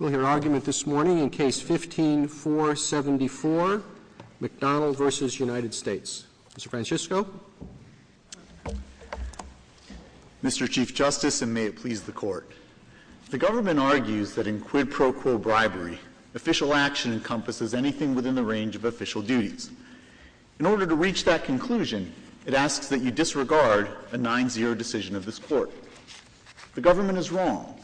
We'll hear argument this morning in Case 15-474, McDonnell v. United States. Mr. Francisco. Mr. Chief Justice, and may it please the Court. The government argues that in quid pro quo bribery, official action encompasses anything within the range of official duties. In order to reach that conclusion, it asks that you disregard a 9-0 decision of this Court. The government is wrong.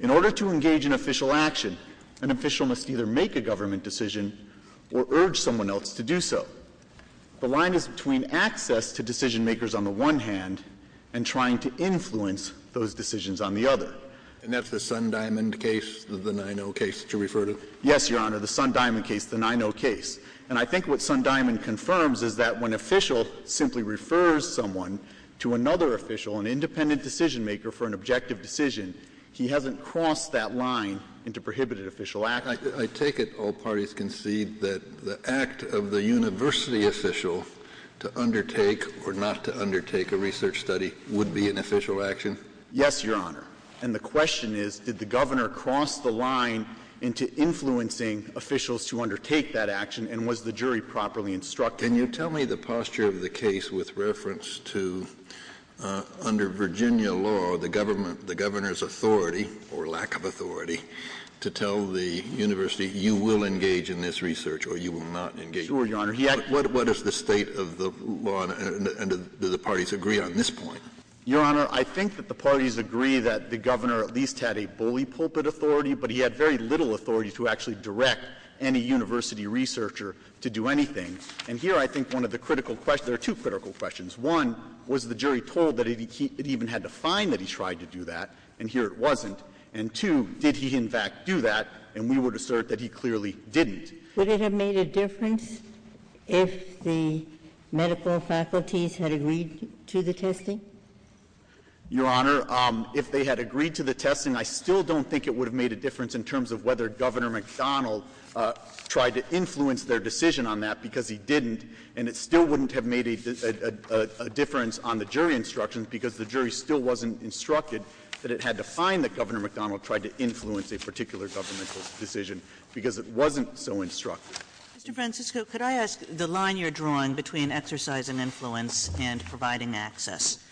In order to engage in official action, an official must either make a government decision or urge someone else to do so. The line is between access to decision-makers on the one hand and trying to influence those decisions on the other. And that's the Sundiamond case, the 9-0 case that you refer to? Yes, Your Honor, the Sundiamond case, the 9-0 case. And I think what Sundiamond confirms is that when an official simply refers someone to another official, an independent decision-maker, for an objective decision, he hasn't crossed that line into prohibited official action. I take it all parties concede that the act of the university official to undertake or not to undertake a research study would be an official action? Yes, Your Honor. And the question is, did the governor cross the line into influencing officials to undertake that action, and was the jury properly instructed? Can you tell me the posture of the case with reference to, under Virginia law, the government, the governor's authority or lack of authority to tell the university, you will engage in this research or you will not engage in this research? Sure, Your Honor. What is the state of the law, and do the parties agree on this point? Your Honor, I think that the parties agree that the governor at least had a bully pulpit authority, but he had very little authority to actually direct any university researcher to do anything. And here I think one of the critical questions, there are two critical questions. One, was the jury told that he even had to find that he tried to do that, and here it wasn't. And two, did he in fact do that, and we would assert that he clearly didn't. Would it have made a difference if the medical faculties had agreed to the testing? Your Honor, if they had agreed to the testing, I still don't think it would have made a difference in terms of whether Governor McDonald tried to influence their decision on that, because he didn't. And it still wouldn't have made a difference on the jury instructions, because the jury still wasn't instructed that it had to find that Governor McDonald tried to influence a particular governmental decision, because it wasn't so instructed. Mr. Francisco, could I ask the line you're drawing between exercise and influence and providing access?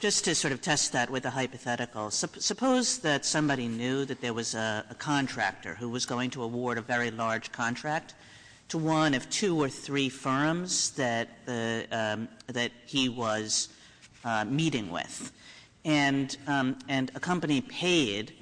Just to sort of test that with a hypothetical. Suppose that somebody knew that there was a contractor who was going to award a very large contract to one of two or three firms that he was meeting with. And a company paid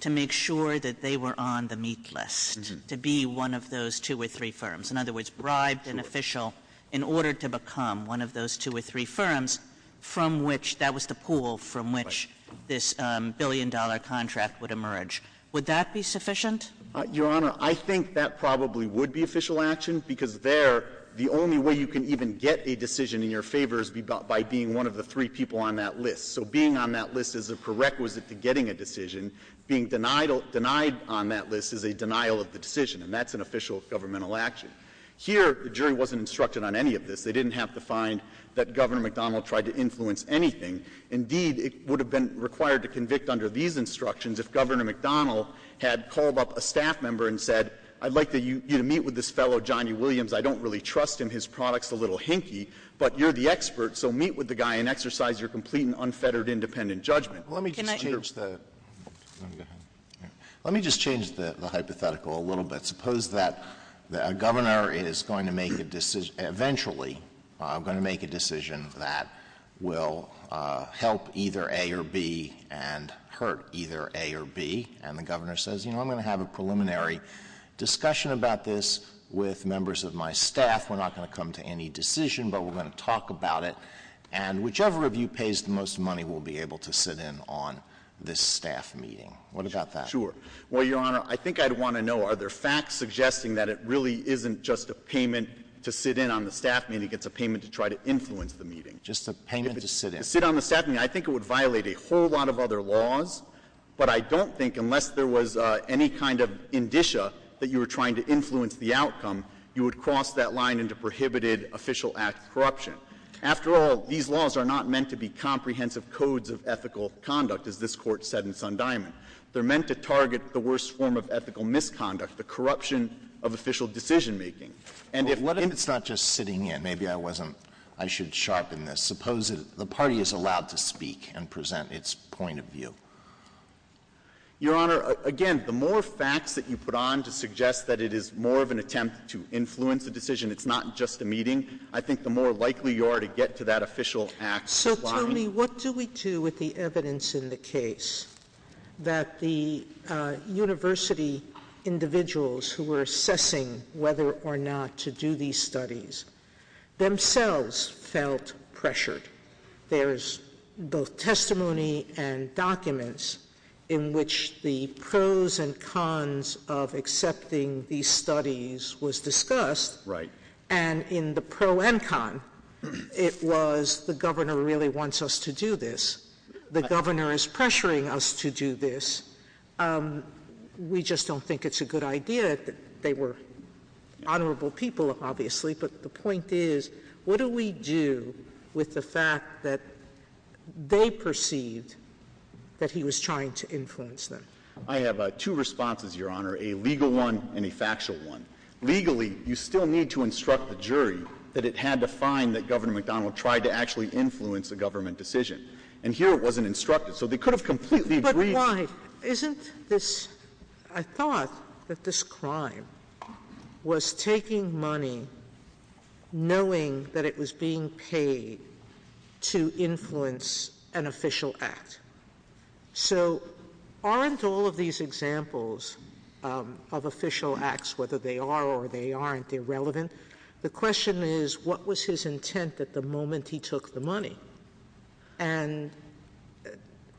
to make sure that they were on the meet list, to be one of those two or three firms. In other words, bribed an official in order to become one of those two or three firms from which that was the pool from which this billion-dollar contract would emerge. Would that be sufficient? Your Honor, I think that probably would be official action, because there, the only way you can even get a decision in your favor is by being one of the three people on that list. So being on that list is a prerequisite to getting a decision. Being denied on that list is a denial of the decision. And that's an official governmental action. Here, the jury wasn't instructed on any of this. They didn't have to find that Governor McDonald tried to influence anything. Indeed, it would have been required to convict under these instructions if Governor McDonald had called up a staff member and said, I'd like you to meet with this fellow, Johnny Williams. I don't really trust him. His product's a little hinky. But you're the expert. So meet with the guy and exercise your complete and unfettered independent judgment. Let me just change the hypothetical a little bit. Suppose that a governor is going to make a decision, eventually going to make a decision that will help either A or B and hurt either A or B, and the governor says, you know, I'm going to have a preliminary discussion about this with members of my staff. We're not going to come to any decision, but we're going to talk about it. And whichever of you pays the most money will be able to sit in on this staff meeting. What about that? Sure. Well, Your Honor, I think I'd want to know, are there facts suggesting that it really isn't just a payment to sit in on the staff meeting, it's a payment to try to influence the meeting? Just a payment to sit in. If it's to sit on the staff meeting, I think it would violate a whole lot of other laws. But I don't think, unless there was any kind of indicia that you were trying to influence the outcome, you would cross that line into prohibited official act corruption. After all, these laws are not meant to be comprehensive codes of ethical conduct, as this Court said in Sundiaman. They're meant to target the worst form of ethical misconduct, the corruption of official decision-making. And if one of them — Well, it's not just sitting in. Maybe I wasn't — I should sharpen this. Suppose the party is allowed to speak and present its point of view. Your Honor, again, the more facts that you put on to suggest that it is more of an attempt to influence a decision, it's not just a meeting, I think the more likely you are to get to that official act line. Tell me, what do we do with the evidence in the case that the university individuals who were assessing whether or not to do these studies themselves felt pressured? There's both testimony and documents in which the pros and cons of accepting these studies was discussed. Right. And in the pro and con, it was the Governor really wants us to do this. The Governor is pressuring us to do this. We just don't think it's a good idea. They were honorable people, obviously. But the point is, what do we do with the fact that they perceived that he was trying to influence them? I have two responses, Your Honor, a legal one and a factual one. Legally, you still need to instruct the jury that it had to find that Governor McDonnell tried to actually influence a government decision. And here it wasn't instructed. So they could have completely agreed. But why? Isn't this — I thought that this crime was taking money knowing that it was being paid to influence an official act. So aren't all of these examples of official acts, whether they are or they aren't, irrelevant? The question is, what was his intent at the moment he took the money? And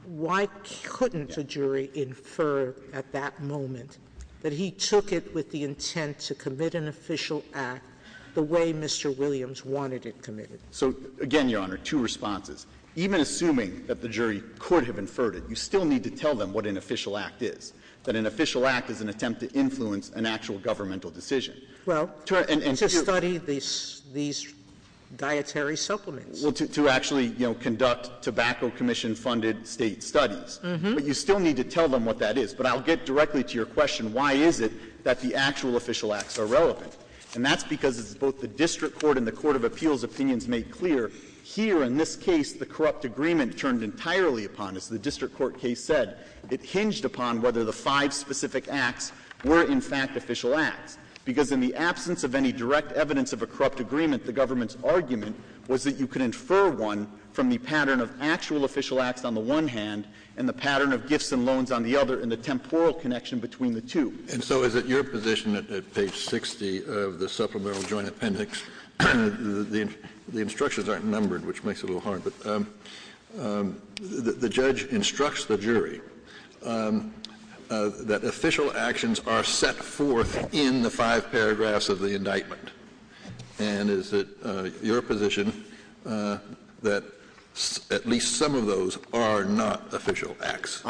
why couldn't a jury infer at that moment that he took it with the intent to commit an official act the way Mr. Williams wanted it committed? So, again, Your Honor, two responses. Even assuming that the jury could have inferred it, you still need to tell them what an official act is, that an official act is an attempt to influence an actual governmental decision. Well, to study these dietary supplements. Well, to actually, you know, conduct tobacco commission-funded state studies. But you still need to tell them what that is. But I'll get directly to your question, why is it that the actual official acts are relevant? And that's because it's both the district court and the court of appeals' opinions made clear. Here, in this case, the corrupt agreement turned entirely upon, as the district court case said, it hinged upon whether the five specific acts were, in fact, official acts, because in the absence of any direct evidence of a corrupt agreement, the government's argument was that you could infer one from the pattern of actual official acts on the one hand and the pattern of gifts and loans on the other and the temporal connection between the two. And so is it your position that at page 60 of the Supplemental Joint Appendix the instructions aren't numbered, which makes it a little hard, but the judge instructs the jury that official actions are set forth in the five paragraphs of the indictment, and is it your position that at least some of those are not official acts?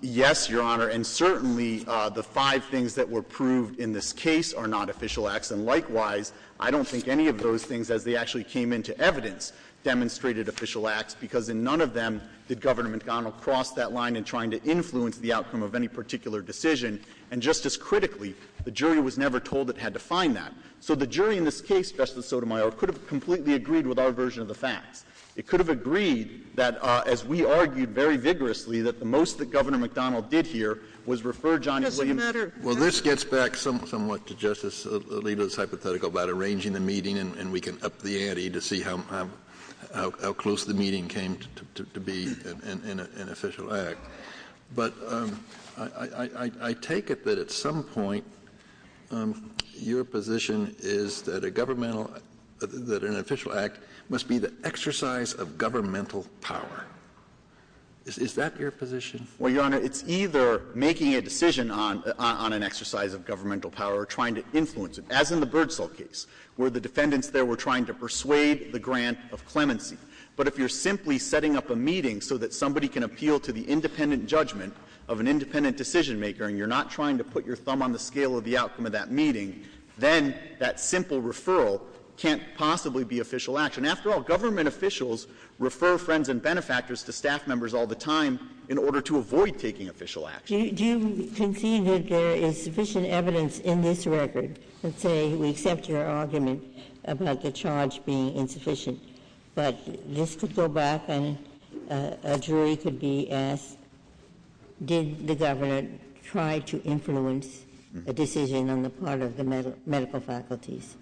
Yes, Your Honor, and certainly the five things that were proved in this case are not official acts. And likewise, I don't think any of those things, as they actually came into evidence, demonstrated official acts, because in none of them did government go across that line in trying to influence the outcome of any particular decision. And just as critically, the jury was never told it had to find that. So the jury in this case, Justice Sotomayor, could have completely agreed with our version of the facts. It could have agreed that, as we argued very vigorously, that the most that Governor McDonnell did here was refer Johnny Williams. Well, this gets back somewhat to Justice Alito's hypothetical about arranging the meeting and we can up the ante to see how close the meeting came to be in an official act. But I take it that at some point your position is that a governmental — that an official act must be the exercise of governmental power. Is that your position? Well, Your Honor, it's either making a decision on an exercise of governmental power or trying to influence it. As in the Birdsell case, where the defendants there were trying to persuade the grant of clemency. But if you're simply setting up a meeting so that somebody can appeal to the independent judgment of an independent decisionmaker and you're not trying to put your thumb on the After all, government officials refer friends and benefactors to staff members all the time in order to avoid taking official action. Do you concede that there is sufficient evidence in this record, let's say we accept your argument about the charge being insufficient, but this could go back and a jury could be asked, did the Governor try to influence a decision on the part of the medical faculties?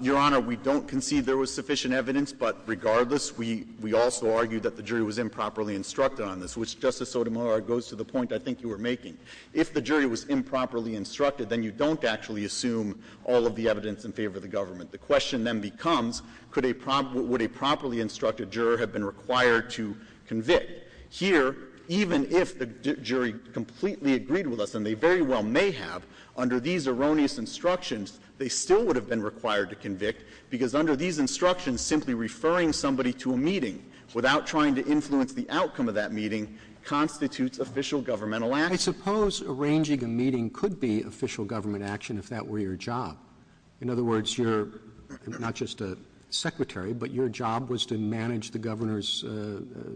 Your Honor, we don't concede there was sufficient evidence. But regardless, we also argue that the jury was improperly instructed on this, which Justice Sotomayor goes to the point I think you were making. If the jury was improperly instructed, then you don't actually assume all of the evidence in favor of the government. The question then becomes, could a — would a properly instructed juror have been required to convict? Here, even if the jury completely agreed with us, and they very well may have, under these erroneous instructions, they still would have been required to convict because under these instructions, simply referring somebody to a meeting without trying to influence the outcome of that meeting constitutes official governmental action. I suppose arranging a meeting could be official government action if that were your job. In other words, you're not just a secretary, but your job was to manage the Governor's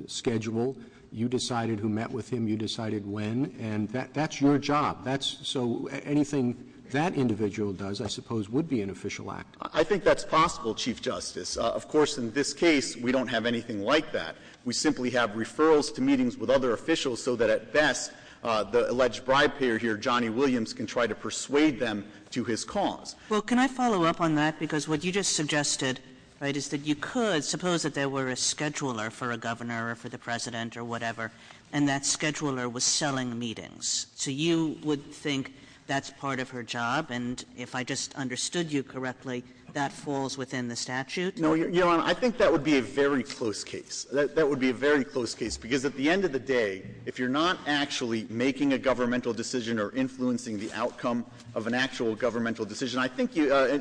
schedule. You decided who met with him. You decided when. And that's your job. That's — so anything that individual does, I suppose, would be an official act. I think that's possible, Chief Justice. Of course, in this case, we don't have anything like that. We simply have referrals to meetings with other officials so that, at best, the alleged bribe payer here, Johnny Williams, can try to persuade them to his cause. Well, can I follow up on that? Because what you just suggested, right, is that you could suppose that there were a scheduler for a Governor or for the President or whatever, and that scheduler was selling meetings. So you would think that's part of her job? And if I just understood you correctly, that falls within the statute? No, Your Honor. I think that would be a very close case. That would be a very close case, because at the end of the day, if you're not actually making a governmental decision or influencing the outcome of an actual governmental decision, I think,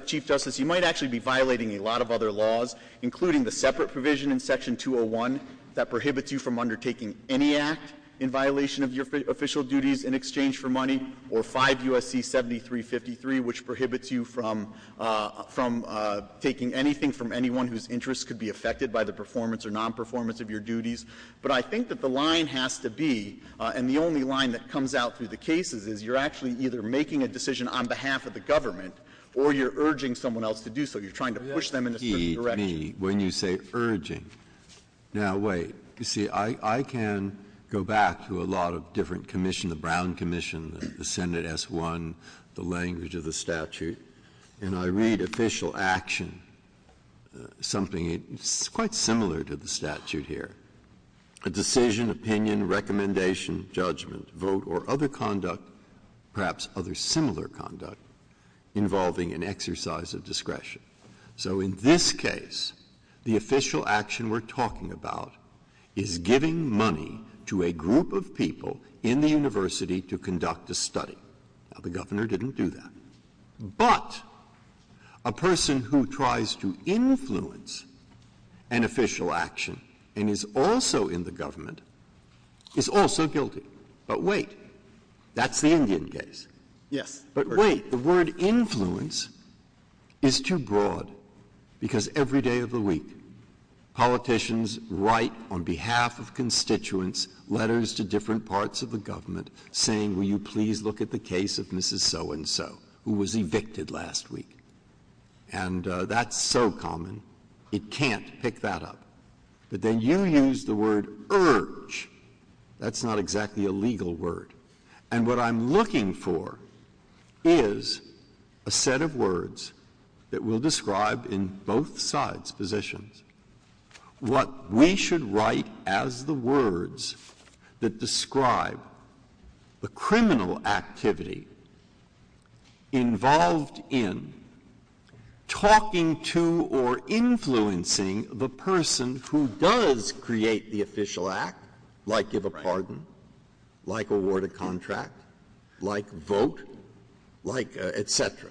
Chief Justice, you might actually be violating a lot of other laws, including the separate provision in Section 201 that prohibits you from undertaking any act in violation of your official duties in exchange for money, or 5 U.S.C. 7353, which prohibits you from taking anything from anyone whose interests could be affected by the performance or nonperformance of your duties. But I think that the line has to be, and the only line that comes out through the cases, is you're actually either making a decision on behalf of the government or you're urging someone else to do so. You're trying to push them in a certain direction. Now, wait. You see, I can go back to a lot of different commissions, the Brown Commission, the Senate S. 1, the language of the statute, and I read official action, something quite similar to the statute here. A decision, opinion, recommendation, judgment, vote, or other conduct, perhaps other similar conduct, involving an exercise of discretion. So in this case, the official action we're talking about is giving money to a group of people in the university to conduct a study. Now, the governor didn't do that. But a person who tries to influence an official action and is also in the government is also guilty. But wait. That's the Indian case. Yes. But wait. The word influence is too broad, because every day of the week, politicians write on behalf of constituents letters to different parts of the government saying, will you please look at the case of Mrs. So-and-so, who was evicted last week. And that's so common, it can't pick that up. But then you use the word urge. That's not exactly a legal word. And what I'm looking for is a set of words that will describe in both sides' positions what we should write as the words that describe the criminal activity involved in talking to or influencing the person who does create the official act, like give a contract, like vote, like et cetera.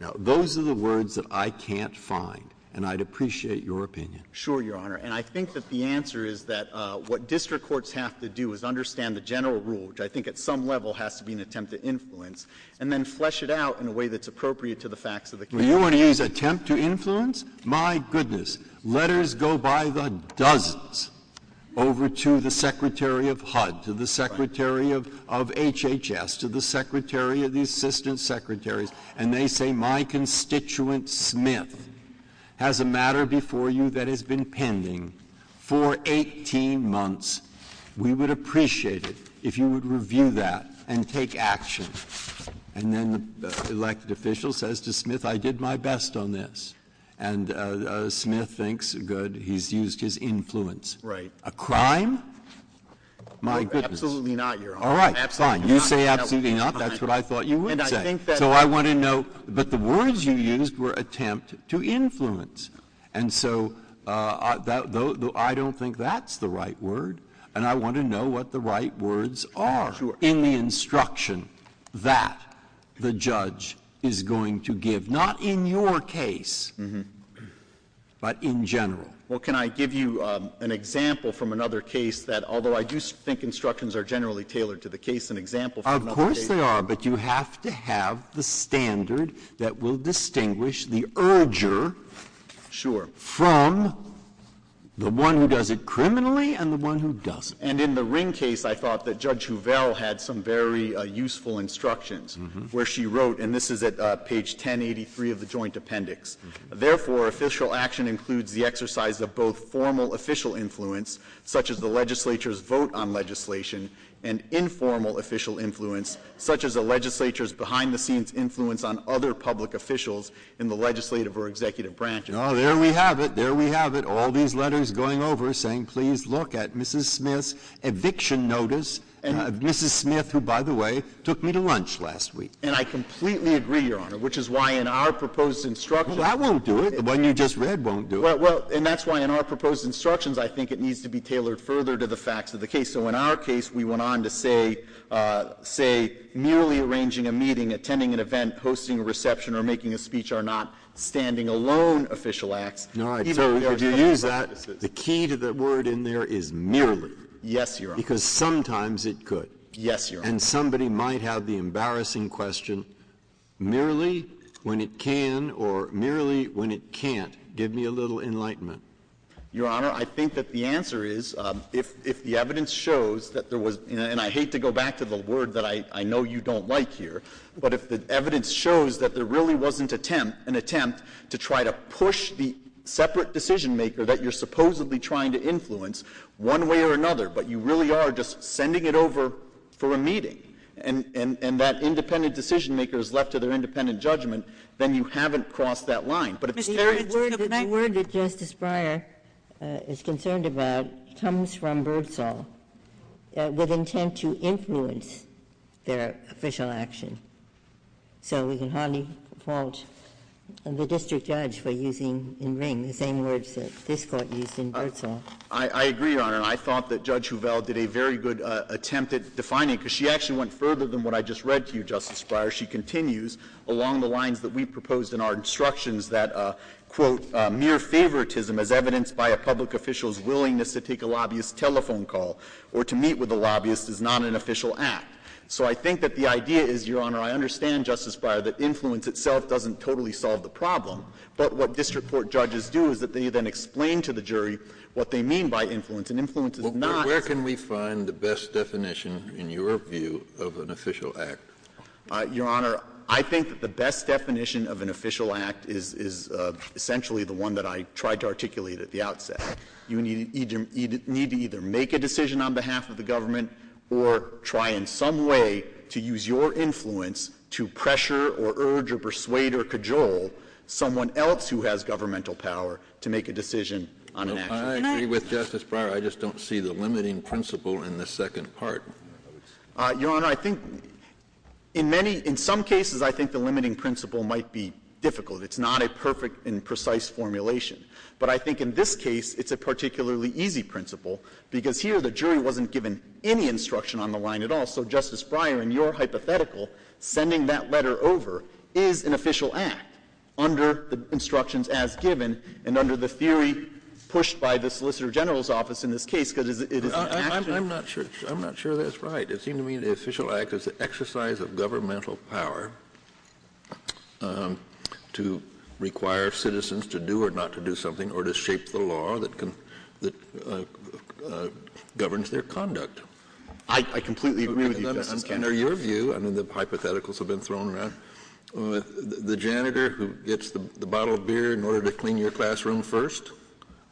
Now, those are the words that I can't find. And I'd appreciate your opinion. Sure, Your Honor. And I think that the answer is that what district courts have to do is understand the general rule, which I think at some level has to be an attempt to influence, and then flesh it out in a way that's appropriate to the facts of the case. Well, you want to use attempt to influence? My goodness. Letters go by the dozens over to the Secretary of HUD, to the Secretary of HHS, to the Secretary of the Assistant Secretaries, and they say, my constituent Smith has a matter before you that has been pending for 18 months. We would appreciate it if you would review that and take action. And then the elected official says to Smith, I did my best on this. And Smith thinks, good, he's used his influence. Right. A crime? My goodness. Absolutely not, Your Honor. All right. Fine. You say absolutely not. That's what I thought you would say. So I want to know. But the words you used were attempt to influence. And so I don't think that's the right word. And I want to know what the right words are in the instruction that the judge is going to give, not in your case, but in general. Well, can I give you an example from another case that, although I do think instructions are generally tailored to the case, an example from another case. Of course they are. But you have to have the standard that will distinguish the urger from the one who does it criminally and the one who doesn't. And in the Ring case, I thought that Judge Hovell had some very useful instructions where she wrote, and this is at page 1083 of the joint appendix, Therefore, official action includes the exercise of both formal official influence, such as the legislature's vote on legislation, and informal official influence, such as the legislature's behind-the-scenes influence on other public officials in the legislative or executive branches. Oh, there we have it. There we have it. All these letters going over saying, please look at Mrs. Smith's eviction notice. And Mrs. Smith, who, by the way, took me to lunch last week. And I completely agree, Your Honor, which is why in our proposed instructions Well, that won't do it. The one you just read won't do it. Well, and that's why in our proposed instructions, I think it needs to be tailored further to the facts of the case. So in our case, we went on to say, say, merely arranging a meeting, attending an event, hosting a reception, or making a speech are not standing alone official acts. All right. So if you use that, the key to the word in there is merely. Yes, Your Honor. Because sometimes it could. Yes, Your Honor. And somebody might have the embarrassing question, merely when it can or merely when it can't. Give me a little enlightenment. Your Honor, I think that the answer is, if the evidence shows that there was, and I hate to go back to the word that I know you don't like here, but if the evidence shows that there really wasn't an attempt to try to push the separate decision-maker that you're supposedly trying to influence one way or another, but you really are just sending it over for a meeting, and that independent decision-maker is left to their independent judgment, then you haven't crossed that line. But if the evidence is the same. The word that Justice Breyer is concerned about comes from Birdsall, with intent to influence their official action. So we can hardly fault the district judge for using in Ring the same words that this Court used in Birdsall. I agree, Your Honor. And I thought that Judge Hovell did a very good attempt at defining, because she actually went further than what I just read to you, Justice Breyer. She continues along the lines that we proposed in our instructions that, quote, mere favoritism as evidenced by a public official's willingness to take a lobbyist's telephone call or to meet with a lobbyist is not an official act. So I think that the idea is, Your Honor, I understand, Justice Breyer, that influence itself doesn't totally solve the problem. But what district court judges do is that they then explain to the jury what they mean by influence. And influence is not. Scalia. Where can we find the best definition, in your view, of an official act? Your Honor, I think that the best definition of an official act is essentially the one that I tried to articulate at the outset. You need to either make a decision on behalf of the government or try in some way to use your influence to pressure or urge or persuade or cajole someone else who has governmental power to make a decision on an action. I agree with Justice Breyer. I just don't see the limiting principle in the second part. Your Honor, I think in many, in some cases, I think the limiting principle might be difficult. It's not a perfect and precise formulation. But I think in this case, it's a particularly easy principle, because here the jury wasn't given any instruction on the line at all. So, Justice Breyer, in your hypothetical, sending that letter over is an official act under the instructions as given and under the theory pushed by the Solicitor General's office in this case, because it is an action. I'm not sure that's right. It seems to me the official act is the exercise of governmental power to require citizens to do or not to do something or to shape the law that governs their conduct. I completely agree with you, Justice Kennedy. Under your view, under the hypotheticals that have been thrown around, the janitor who gets the bottle of beer in order to clean your classroom first,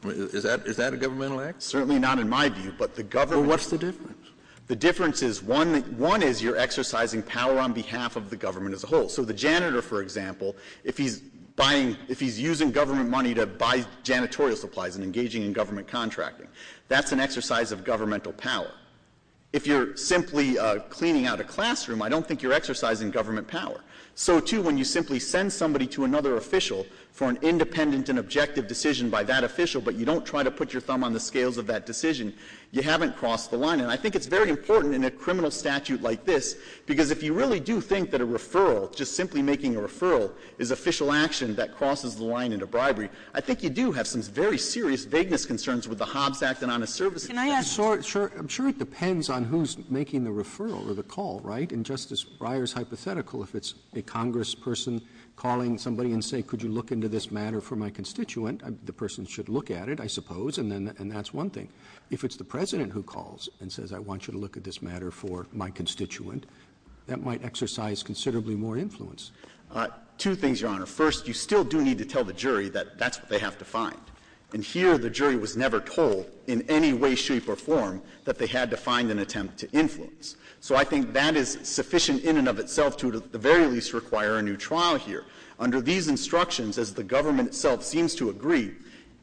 is that a governmental act? Certainly not in my view. But the government Well, what's the difference? The difference is, one is you're exercising power on behalf of the government as a whole. So the janitor, for example, if he's buying, if he's using government money to buy janitorial supplies and engaging in government contracting, that's an exercise of governmental power. If you're simply cleaning out a classroom, I don't think you're exercising government power. So, too, when you simply send somebody to another official for an independent and objective decision by that official, but you don't try to put your thumb on the scales of that decision, you haven't crossed the line. And I think it's very important in a criminal statute like this, because if you really do think that a referral, just simply making a referral, is official action that crosses the line into bribery, I think you do have some very serious vagueness concerns with the Hobbs Act and honest services. Can I ask Sure. I'm sure it depends on who's making the referral or the call, right? And Justice Breyer's hypothetical, if it's a congressperson calling somebody and saying, could you look into this matter for my constituent, the person should look at it, I suppose, and that's one thing. If it's the President who calls and says, I want you to look at this matter for my constituent, that might exercise considerably more influence. Two things, Your Honor. First, you still do need to tell the jury that that's what they have to find. And here the jury was never told in any way, shape, or form that they had to find an attempt to influence. So I think that is sufficient in and of itself to at the very least require a new trial here. Under these instructions, as the government itself seems to agree,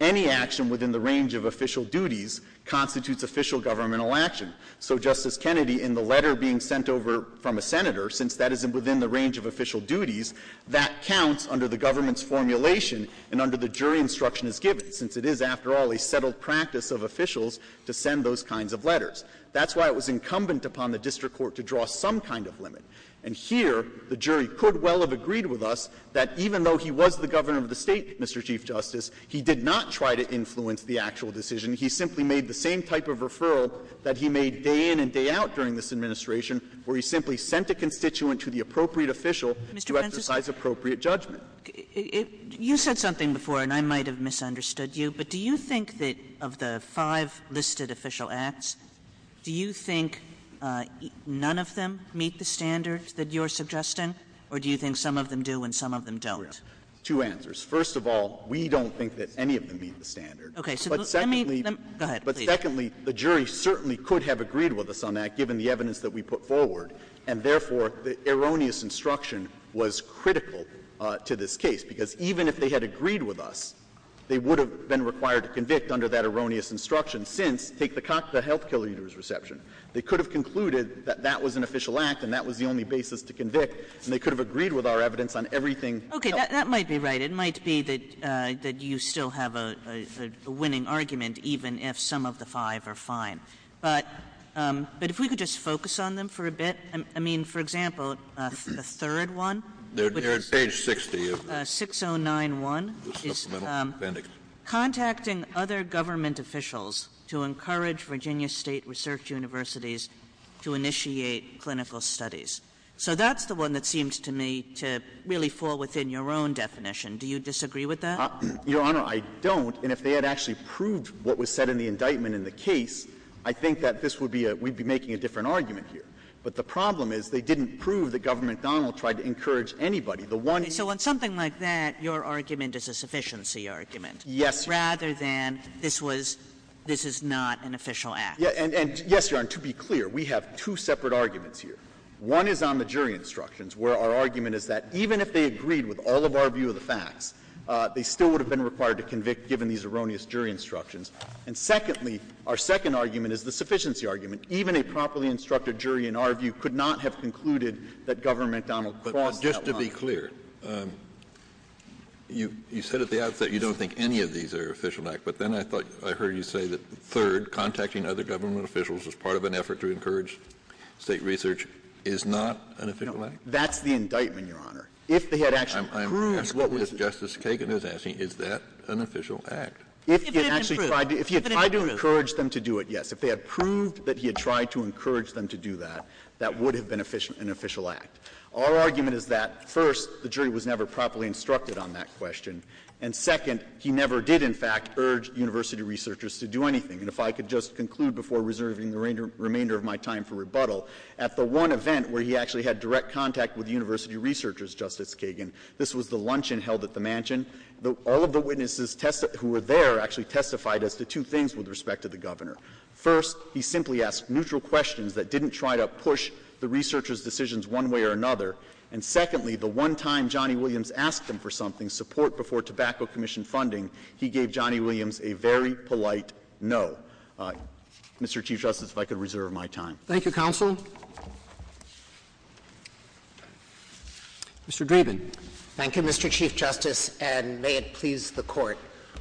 any action within the range of official duties constitutes official governmental action. So, Justice Kennedy, in the letter being sent over from a senator, since that is within the range of official duties, that counts under the government's formulation and under the jury instruction as given, since it is, after all, a settled practice of officials to send those kinds of letters. That's why it was incumbent upon the district court to draw some kind of limit. And here the jury could well have agreed with us that even though he was the governor of the State, Mr. Chief Justice, he did not try to influence the actual decision. He simply made the same type of referral that he made day in and day out during this administration, where he simply sent a constituent to the appropriate official to exercise appropriate judgment. Kagan. You said something before, and I might have misunderstood you, but do you think that of the five listed official acts, do you think none of them meet the standard that you are suggesting, or do you think some of them do and some of them don't? Two answers. First of all, we don't think that any of them meet the standard. But secondly, the jury certainly could have agreed with us on that, given the evidence that we put forward. And therefore, the erroneous instruction was critical to this case. Because even if they had agreed with us, they would have been required to convict under that erroneous instruction since, take the health care leader's reception. They could have concluded that that was an official act and that was the only basis to convict, and they could have agreed with our evidence on everything else. That might be right. It might be that you still have a winning argument, even if some of the five are fine. But if we could just focus on them for a bit. I mean, for example, the third one, which is 6091, is contacting other government officials to encourage Virginia State research universities to initiate clinical studies. So that's the one that seems to me to really fall within your own definition. Do you disagree with that? Your Honor, I don't. And if they had actually proved what was said in the indictment in the case, I think that this would be a — we'd be making a different argument here. But the problem is they didn't prove that Government Donald tried to encourage anybody. The one — Okay. So on something like that, your argument is a sufficiency argument. Yes, Your Honor. Rather than this was — this is not an official act. And, yes, Your Honor, to be clear, we have two separate arguments here. One is on the jury instructions, where our argument is that even if they agreed with all of our view of the facts, they still would have been required to convict given these erroneous jury instructions. And secondly, our second argument is the sufficiency argument. Even a properly instructed jury in our view could not have concluded that Government Donald crossed that line. But just to be clear, you said at the outset you don't think any of these are official acts, but then I thought — I heard you say that third, contacting other government officials as part of an effort to encourage State research is not an official act? No. That's the indictment, Your Honor. If they had actually proved — I'm asking Justice Kagan is asking, is that an official act? If it actually tried to — If it had been proved. If he had tried to encourage them to do it, yes. If they had proved that he had tried to encourage them to do that, that would have been an official act. Our argument is that, first, the jury was never properly instructed on that question, and, second, he never did, in fact, urge university researchers to do anything. And if I could just conclude before reserving the remainder of my time for rebuttal, at the one event where he actually had direct contact with university researchers, Justice Kagan — this was the luncheon held at the mansion — all of the witnesses who were there actually testified as to two things with respect to the Governor. First, he simply asked neutral questions that didn't try to push the researchers' decisions one way or another. And, secondly, the one time Johnny Williams asked him for something, support before tobacco commission funding, he gave Johnny Williams a very polite no. Mr. Chief Justice, if I could reserve my time. Thank you, counsel. Mr. Dreeben. Thank you, Mr. Chief Justice, and may it please the Court.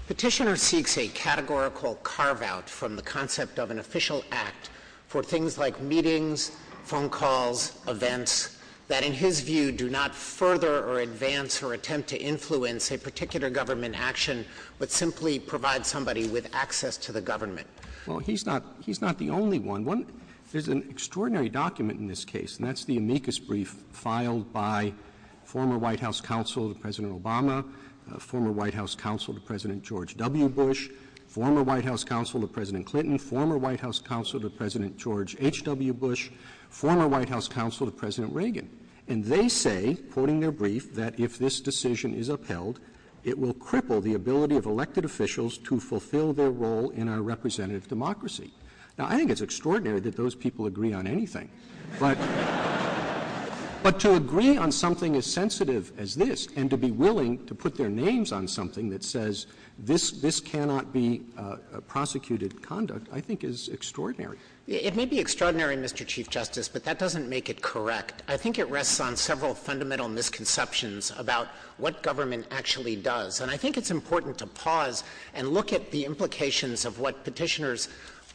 Petitioner seeks a categorical carve-out from the concept of an official act for things like meetings, phone calls, events, that in his view do not further or advance or attempt to influence a particular government action, but simply provide somebody with access to the government. Well, he's not — he's not the only one. There's an extraordinary document in this case, and that's the amicus brief filed by former White House counsel to President Obama, former White House counsel to President George W. Bush, former White House counsel to President Clinton, former White House counsel to President George H.W. Bush, former White House counsel to President But to agree on something as sensitive as this and to be willing to put their names on something that says this — this cannot be prosecuted conduct, I think, is extraordinary. It may be extraordinary, Mr. Chief Justice, but that doesn't make it correct. I think it rests on several fundamental misconceptions about what the Constitution government actually does. And I think it's important to pause and look at the implications of what Petitioner's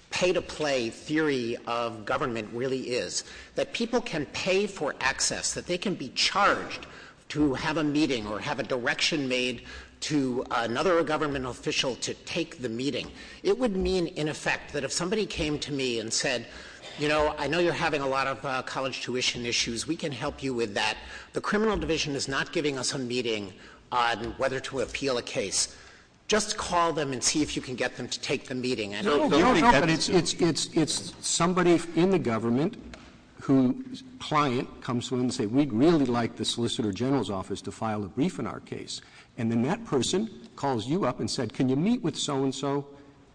pay-to-play theory of government really is, that people can pay for access, that they can be charged to have a meeting or have a direction made to another government official to take the meeting. It would mean, in effect, that if somebody came to me and said, you know, I know you're having a lot of college tuition issues. We can help you with that. The criminal division is not giving us a meeting on whether to appeal a case. Just call them and see if you can get them to take the meeting. And I don't think that's — No, no. But it's — it's somebody in the government whose client comes to them and says, we'd really like the Solicitor General's office to file a brief in our case. And then that person calls you up and said, can you meet with so-and-so?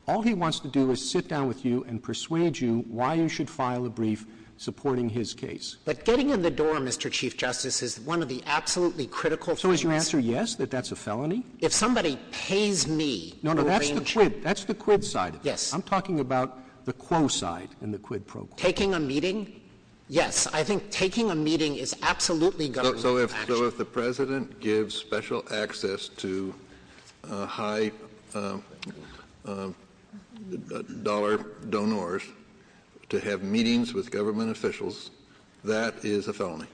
All he wants to do is sit down with you and persuade you why you should file a brief supporting his case. But getting in the door, Mr. Chief Justice, is one of the absolutely critical figures. So is your answer yes, that that's a felony? If somebody pays me to arrange — No, no. That's the quid. That's the quid side of it. Yes. I'm talking about the quo side and the quid pro quo. Taking a meeting? Yes. I think taking a meeting is absolutely government action. So if — so if the President gives special access to high-dollar donors to have meetings with government officials, that is a felony.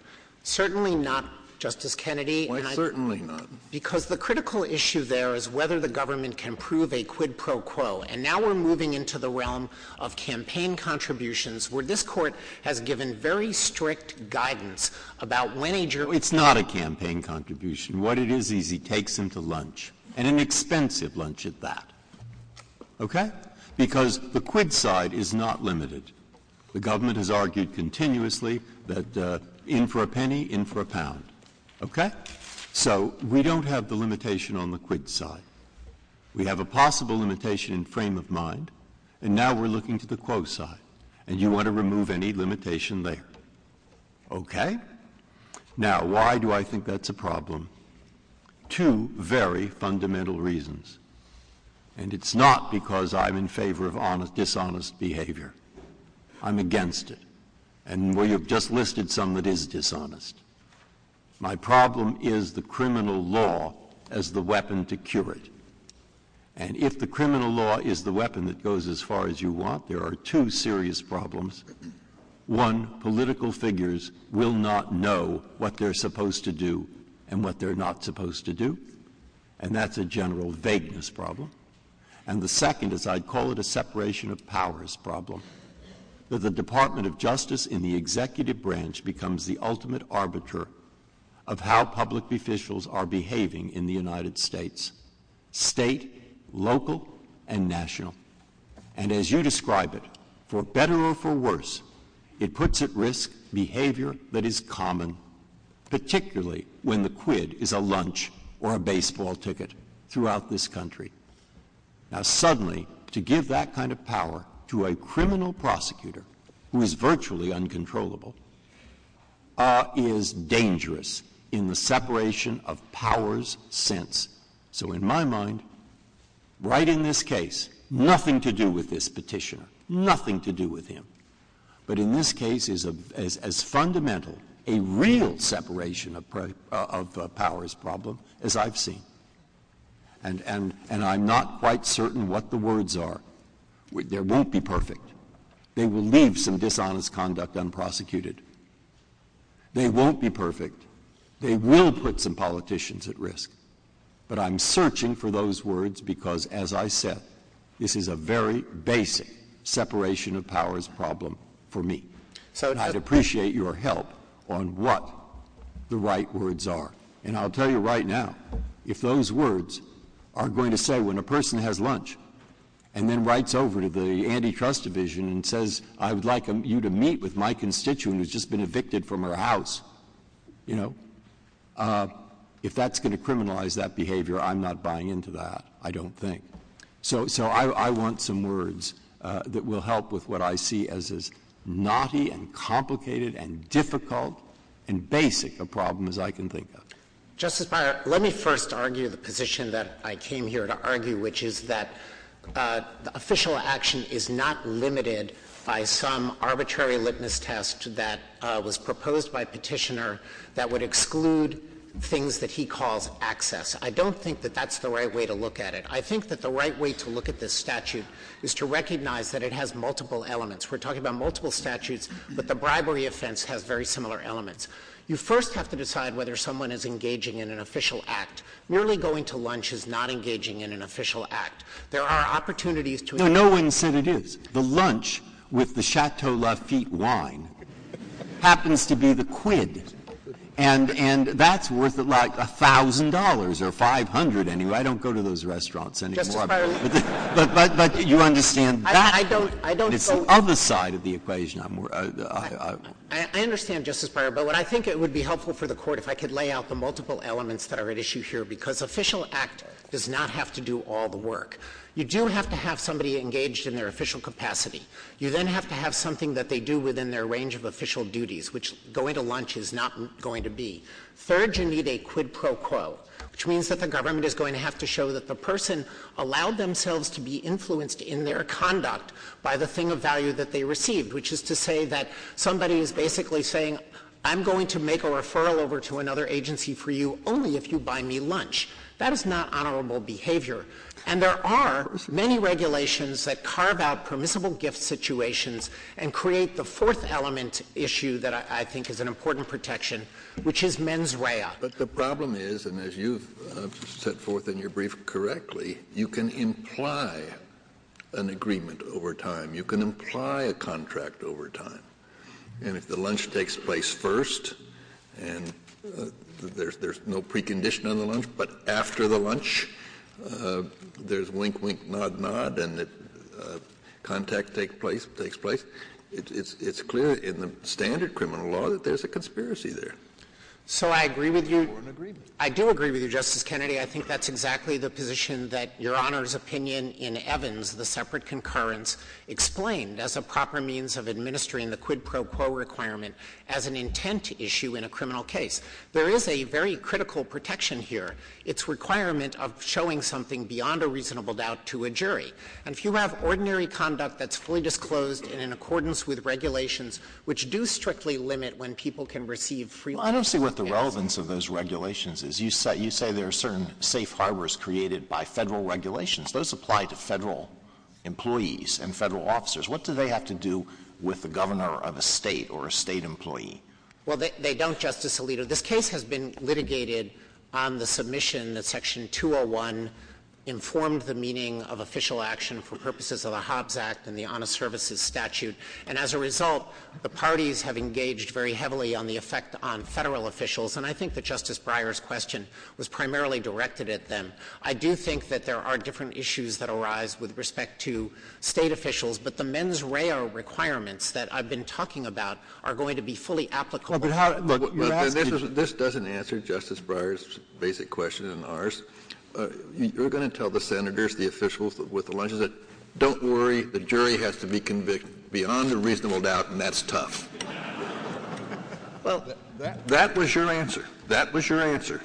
Certainly not, Justice Kennedy. Why certainly not? Because the critical issue there is whether the government can prove a quid pro quo. And now we're moving into the realm of campaign contributions, where this Court has given very strict guidance about when a juror — It's not a campaign contribution. What it is is he takes them to lunch, and an expensive lunch at that. Okay? Because the quid side is not limited. The government has argued continuously that in for a penny, in for a pound. Okay? So we don't have the limitation on the quid side. We have a possible limitation in frame of mind, and now we're looking to the quo side. And you want to remove any limitation there. Okay? Now, why do I think that's a problem? Two very fundamental reasons. And it's not because I'm in favor of dishonest behavior. I'm against it. And we have just listed some that is dishonest. My problem is the criminal law as the weapon to cure it. And if the criminal law is the weapon that goes as far as you want, there are two serious problems. One, political figures will not know what they're supposed to do and what they're not supposed to do. And that's a general vagueness problem. And the second is I'd call it a separation of powers problem, that the Department of Justice in the executive branch becomes the ultimate arbiter of how public officials are behaving in the United States, state, local, and national. And as you describe it, for better or for worse, it puts at risk behavior that is common, particularly when the quid is a lunch or a baseball ticket throughout this country. Now, suddenly, to give that kind of power to a criminal prosecutor, who is virtually uncontrollable, is dangerous in the separation of powers sense. So in my mind, right in this case, nothing to do with this petitioner, nothing to do with him. But in this case is as fundamental a real separation of powers problem as I've seen. And I'm not quite certain what the words are. There won't be perfect. They will leave some dishonest conduct unprosecuted. They won't be perfect. They will put some politicians at risk. But I'm searching for those words because, as I said, this is a very basic separation of powers problem for me. And I'd appreciate your help on what the right words are. And I'll tell you right now, if those words are going to say when a person has lunch and then writes over to the antitrust division and says, I would like you to meet with my constituent who's just been evicted from her house, you know, if that's going to criminalize that behavior, I'm not buying into that, I don't think. So I want some words that will help with what I see as as naughty and complicated and difficult and basic a problem as I can think of. Justice Breyer, let me first argue the position that I came here to argue, which is that the official action is not limited by some arbitrary litmus test that was proposed by Petitioner that would exclude things that he calls access. I don't think that that's the right way to look at it. I think that the right way to look at this statute is to recognize that it has multiple elements. We're talking about multiple statutes, but the bribery offense has very similar elements. You first have to decide whether someone is engaging in an official act. Merely going to lunch is not engaging in an official act. There are opportunities to engage in an official act. No one said it is. The lunch with the Chateau Lafitte wine happens to be the quid. And that's worth, like, $1,000 or 500. I don't do it anyway. I don't go to those restaurants anymore. Justice Breyer. But you understand that. I don't. I don't. It's the other side of the equation. I'm more — I understand, Justice Breyer. But what I think it would be helpful for the Court, if I could lay out the multiple elements that are at issue here, because official act does not have to do all the work. You do have to have somebody engaged in their official capacity. You then have to have something that they do within their range of official duties, which going to lunch is not going to be. Third, you need a quid pro quo, which means that the government is going to have to show that the person allowed themselves to be influenced in their conduct by the thing of value that they received, which is to say that somebody is basically saying, I'm going to make a referral over to another agency for you only if you buy me lunch. That is not honorable behavior. And there are many regulations that carve out permissible gift situations and create the fourth element issue that I think is an important protection, which is mens rea. But the problem is, and as you've set forth in your brief correctly, you can imply an agreement over time. You can imply a contract over time. And if the lunch takes place first and there's no precondition on the lunch, but after the standard criminal law that there's a conspiracy there. So I agree with you. Or an agreement. I do agree with you, Justice Kennedy. I think that's exactly the position that Your Honor's opinion in Evans, the separate concurrence, explained as a proper means of administering the quid pro quo requirement as an intent issue in a criminal case. There is a very critical protection here. It's requirement of showing something beyond a reasonable doubt to a jury. And if you have ordinary conduct that's fully disclosed and in accordance with regulations which do strictly limit when people can receive free lunch. Well, I don't see what the relevance of those regulations is. You say there are certain safe harbors created by Federal regulations. Those apply to Federal employees and Federal officers. What do they have to do with the governor of a State or a State employee? Well, they don't, Justice Alito. This case has been litigated on the submission that Section 201 informed the meaning of official action for purposes of the Hobbs Act and the Honest Services Statute. And as a result, the parties have engaged very heavily on the effect on Federal officials. And I think that Justice Breyer's question was primarily directed at them. I do think that there are different issues that arise with respect to State officials. But the mens rea requirements that I've been talking about are going to be fully applicable. Well, but how do you ask? This doesn't answer Justice Breyer's basic question and ours. You're going to tell the Senators, the officials with the lunches that, don't worry, the jury has to be convicted beyond a reasonable doubt, and that's tough. Well, that was your answer. That was your answer.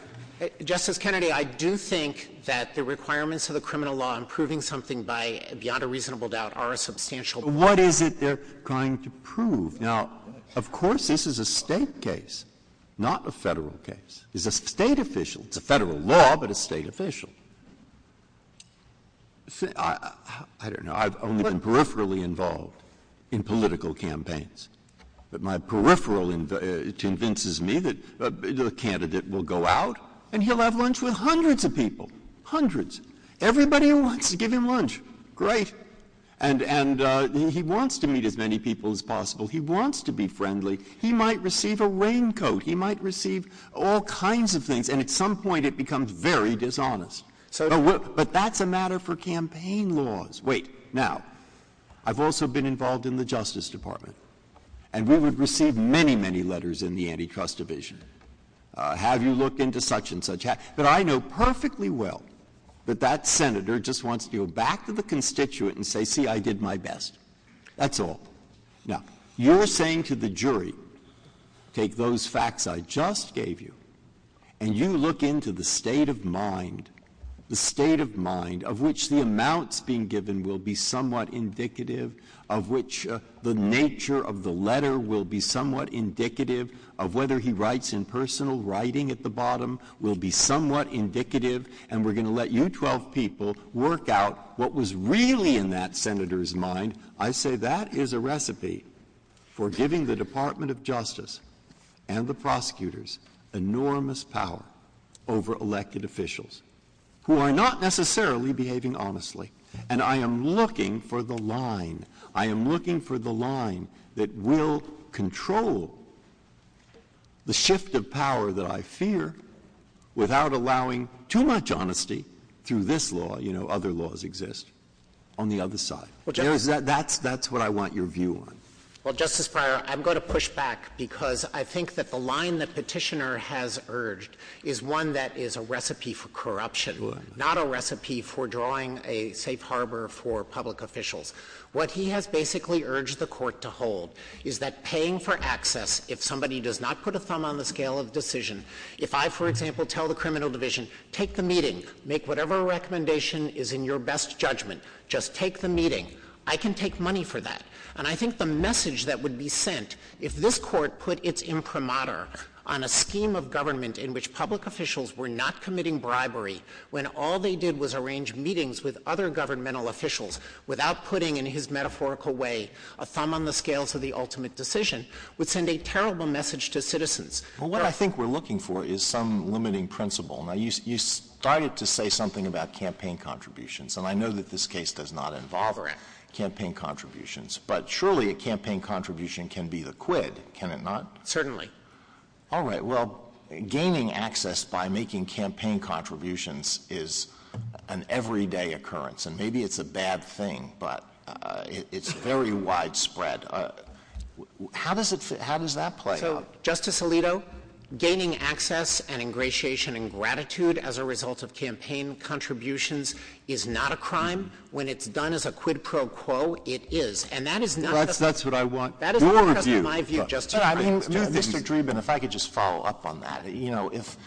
Justice Kennedy, I do think that the requirements of the criminal law in proving something by beyond a reasonable doubt are a substantial part of it. What is it they're trying to prove? Now, of course, this is a State case, not a Federal case. It's a State official. It's a Federal law, but a State official. I don't know. I've only been peripherally involved in political campaigns. But my peripheral convinces me that the candidate will go out and he'll have lunch with hundreds of people. Hundreds. Everybody wants to give him lunch. Great. And he wants to meet as many people as possible. He wants to be friendly. He might receive a raincoat. He might receive all kinds of things. And at some point it becomes very dishonest. But that's a matter for campaign laws. Wait. Now, I've also been involved in the Justice Department, and we would receive many, many letters in the Antitrust Division, have you look into such and such. But I know perfectly well that that senator just wants to go back to the constituent and say, see, I did my best. That's all. Now, you're saying to the jury, take those facts I just gave you, and you look into the state of mind, the state of mind of which the amounts being given will be somewhat indicative, of which the nature of the letter will be somewhat indicative, of whether he writes in personal writing at the bottom will be somewhat indicative, and we're going to let you 12 people work out what was really in that senator's mind. I say that is a recipe for giving the Department of Justice and the prosecutors enormous power over elected officials who are not necessarily behaving honestly. And I am looking for the line. I am looking for the line that will control the shift of power that I fear without allowing too much honesty through this law. You know, other laws exist on the other side. That's what I want your view on. Well, Justice Breyer, I'm going to push back because I think that the line that Petitioner has urged is one that is a recipe for corruption, not a recipe for drawing a safe harbor for public officials. What he has basically urged the Court to hold is that paying for access, if somebody does not put a thumb on the scale of the decision, if I, for example, tell the criminal division, take the meeting, make whatever recommendation is in your best judgment, just take the meeting, I can take money for that. And I think the message that would be sent if this Court put its imprimatur on a scheme of government in which public officials were not committing bribery when all they did was arrange meetings with other governmental officials without putting, in his metaphorical way, a thumb on the scale to the ultimate decision, would send a terrible message to citizens. Well, what I think we're looking for is some limiting principle. Now, you started to say something about campaign contributions. And I know that this case does not involve campaign contributions. But surely a campaign contribution can be the quid, can it not? Certainly. All right. Well, gaining access by making campaign contributions is an everyday occurrence. And maybe it's a bad thing, but it's very widespread. How does it fit — how does that play out? So, Justice Alito, gaining access and ingratiation and gratitude as a result of campaign contributions is not a crime. When it's done as a quid pro quo, it is. And that is not — That's what I want your view — That is not my view, Justice Dreeben. Mr. Dreeben, if I could just follow up on that. You know, if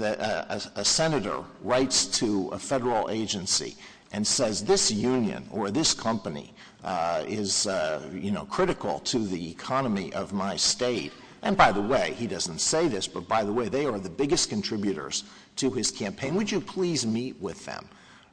a senator writes to a Federal agency and says, this union or this company is, you know, critical to the economy of my State — and by the way, he doesn't say this, but by the way, they are the biggest contributors to his campaign. Would you please meet with them?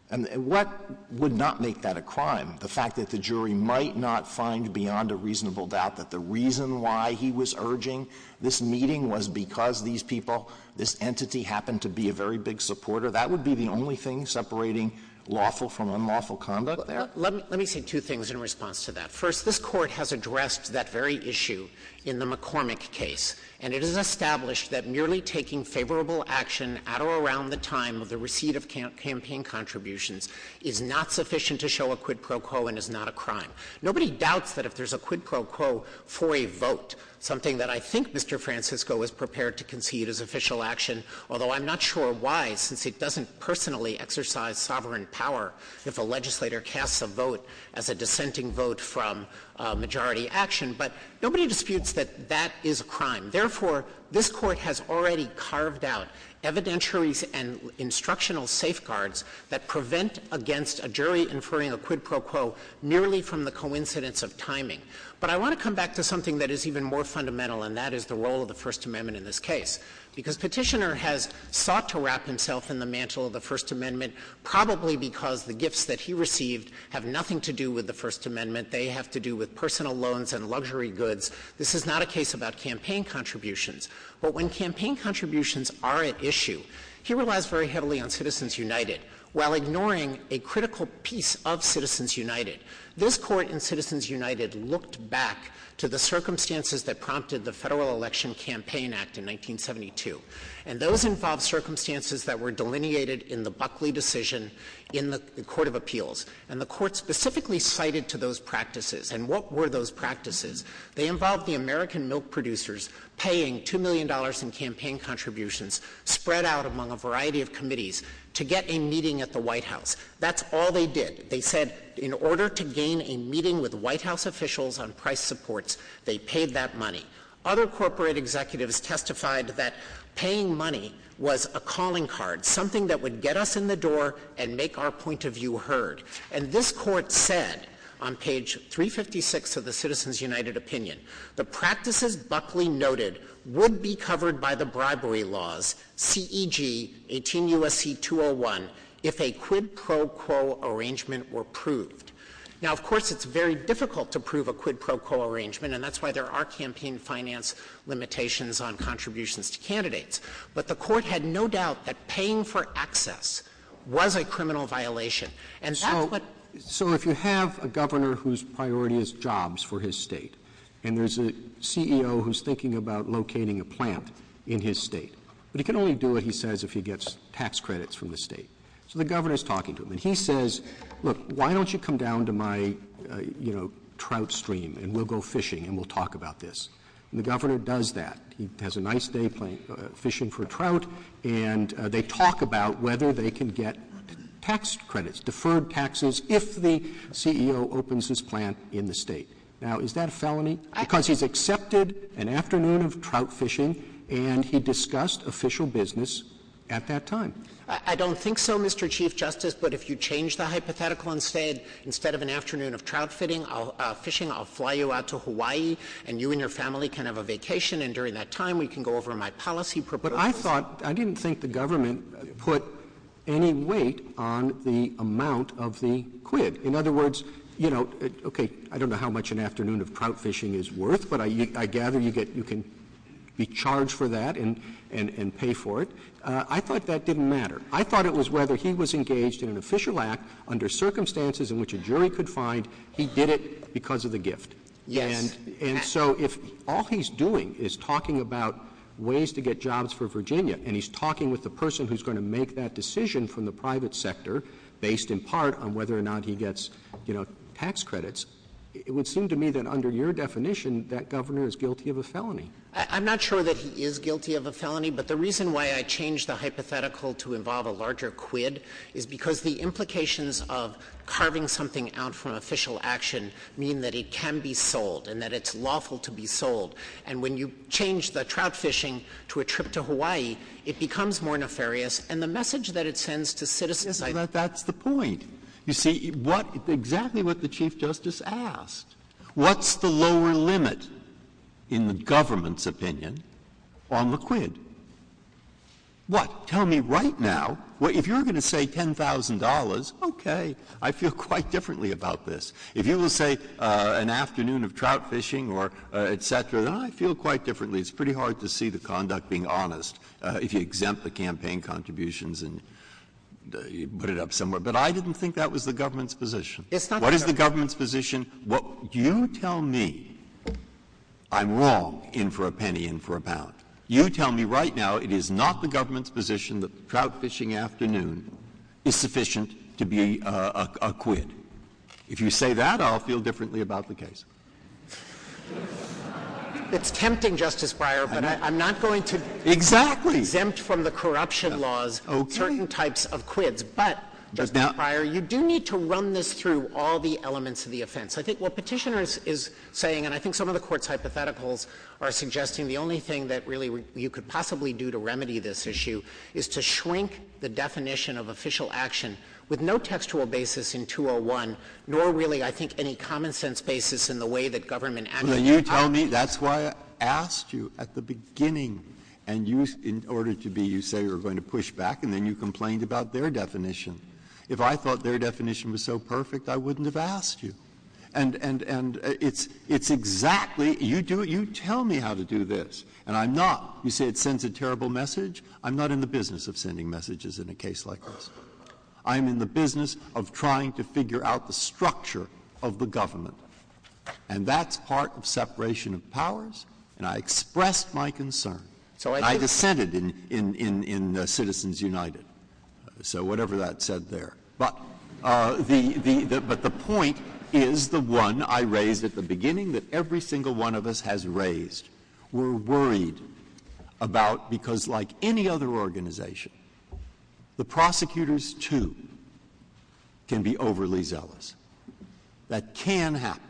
And what would not make that a crime? The fact that the jury might not find beyond a reasonable doubt that the reason why he was urging this meeting was because these people, this entity, happened to be a very big supporter? That would be the only thing separating lawful from unlawful conduct there? Let me say two things in response to that. First, this Court has addressed that very issue in the McCormick case. And it has established that merely taking favorable action at or around the time of the receipt of campaign contributions is not sufficient to show a quid pro quo and is not a crime. Nobody doubts that if there's a quid pro quo for a vote, something that I think Mr. Francisco is prepared to concede is official action, although I'm not sure why, since it doesn't personally exercise sovereign power if a legislator casts a vote as a dissenting vote from majority action. But nobody disputes that that is a crime. Therefore, this Court has already carved out evidentiaries and instructional safeguards that prevent against a jury inferring a quid pro quo merely from the coincidence of timing. But I want to come back to something that is even more fundamental, and that is the role of the First Amendment in this case. Because Petitioner has sought to wrap himself in the mantle of the First Amendment probably because the gifts that he received have nothing to do with the First Amendment. They have to do with personal loans and luxury goods. This is not a case about campaign contributions. But when campaign contributions are at issue, he relies very heavily on Citizens United while ignoring a critical piece of Citizens United. This Court in Citizens United looked back to the circumstances that prompted the Federal Election Campaign Act in 1972, and those involved circumstances that were delineated in the Buckley decision in the Court of Appeals. And the Court specifically cited to those practices. And what were those practices? They involved the American milk producers paying $2 million in campaign contributions spread out among a variety of committees to get a meeting at the White House. That's all they did. They said in order to gain a meeting with White House officials on price supports, they paid that money. Other corporate executives testified that paying money was a calling card, something that would get us in the door and make our point of view heard. And this Court said on page 356 of the Citizens United opinion, the practices Buckley noted would be covered by the bribery laws, CEG 18 U.S.C. 201, if a quid pro quo arrangement were proved. Now, of course, it's very difficult to prove a quid pro quo arrangement, and that's why there are campaign finance limitations on contributions to candidates. But the Court had no doubt that paying for excess was a criminal violation. And that's what — Roberts. So if you have a governor whose priority is jobs for his State, and there's a CEO who's thinking about locating a plant in his State, but he can only do it, he says, if he gets tax credits from the State. So the governor is talking to him, and he says, look, why don't you come down to my, you know, trout stream, and we'll go fishing, and we'll talk about this. And the governor does that. He has a nice day fishing for trout, and they talk about whether they can get tax credits, deferred taxes, if the CEO opens his plant in the State. Now, is that a felony? Because he's accepted an afternoon of trout fishing, and he discussed official business at that time. I don't think so, Mr. Chief Justice, but if you change the hypothetical instead, instead of an afternoon of trout fishing, I'll fly you out to Hawaii, and you and your family can have a vacation, and during that time we can go over my policy proposals. But I thought — I didn't think the government put any weight on the amount of the quid. In other words, you know, okay, I don't know how much an afternoon of trout fishing is worth, but I gather you can be charged for that and pay for it. I thought that didn't matter. I thought it was whether he was engaged in an official act under circumstances in which a jury could find he did it because of the gift. Yes. And so if all he's doing is talking about ways to get jobs for Virginia, and he's talking with the person who's going to make that decision from the private sector based in part on whether or not he gets, you know, tax credits, it would seem to me that under your definition that governor is guilty of a felony. I'm not sure that he is guilty of a felony, but the reason why I changed the hypothetical to involve a larger quid is because the implications of carving something out from official action mean that it can be sold and that it's lawful to be sold. And when you change the trout fishing to a trip to Hawaii, it becomes more nefarious. And the message that it sends to citizens — Yes, but that's the point. You see, what — exactly what the Chief Justice asked. What's the lower limit in the government's opinion on the quid? What? Tell me right now. If you're going to say $10,000, okay, I feel quite differently about this. If you will say an afternoon of trout fishing or et cetera, then I feel quite differently. It's pretty hard to see the conduct being honest if you exempt the campaign contributions and put it up somewhere. But I didn't think that was the government's position. It's not the government's position. What — you tell me I'm wrong in for a penny, in for a pound. You tell me right now it is not the government's position that the trout fishing afternoon is sufficient to be a quid. If you say that, I'll feel differently about the case. It's tempting, Justice Breyer, but I'm not going to — Exactly. — exempt from the corruption laws certain types of quids. But, Justice Breyer, you do need to run this through all the elements of the offense. I think what Petitioner is saying, and I think some of the Court's hypotheticals are suggesting the only thing that really you could possibly do to remedy this issue is to shrink the definition of official action with no textual basis in 201, nor really, I think, any common-sense basis in the way that government — Well, you tell me. That's why I asked you at the beginning, and you — in order to be — you say you're going to push back, and then you complained about their definition. If I thought their definition was so perfect, I wouldn't have asked you. And it's exactly — you tell me how to do this, and I'm not — you say it sends a terrible message. I'm not in the business of sending messages in a case like this. I'm in the business of trying to figure out the structure of the government. And that's part of separation of powers, and I expressed my concern. And I dissented in Citizens United. So whatever that said there. But the point is the one I raised at the beginning that every single one of us has raised. We're worried about — because like any other organization, the prosecutors, too, can be overly zealous. That can happen.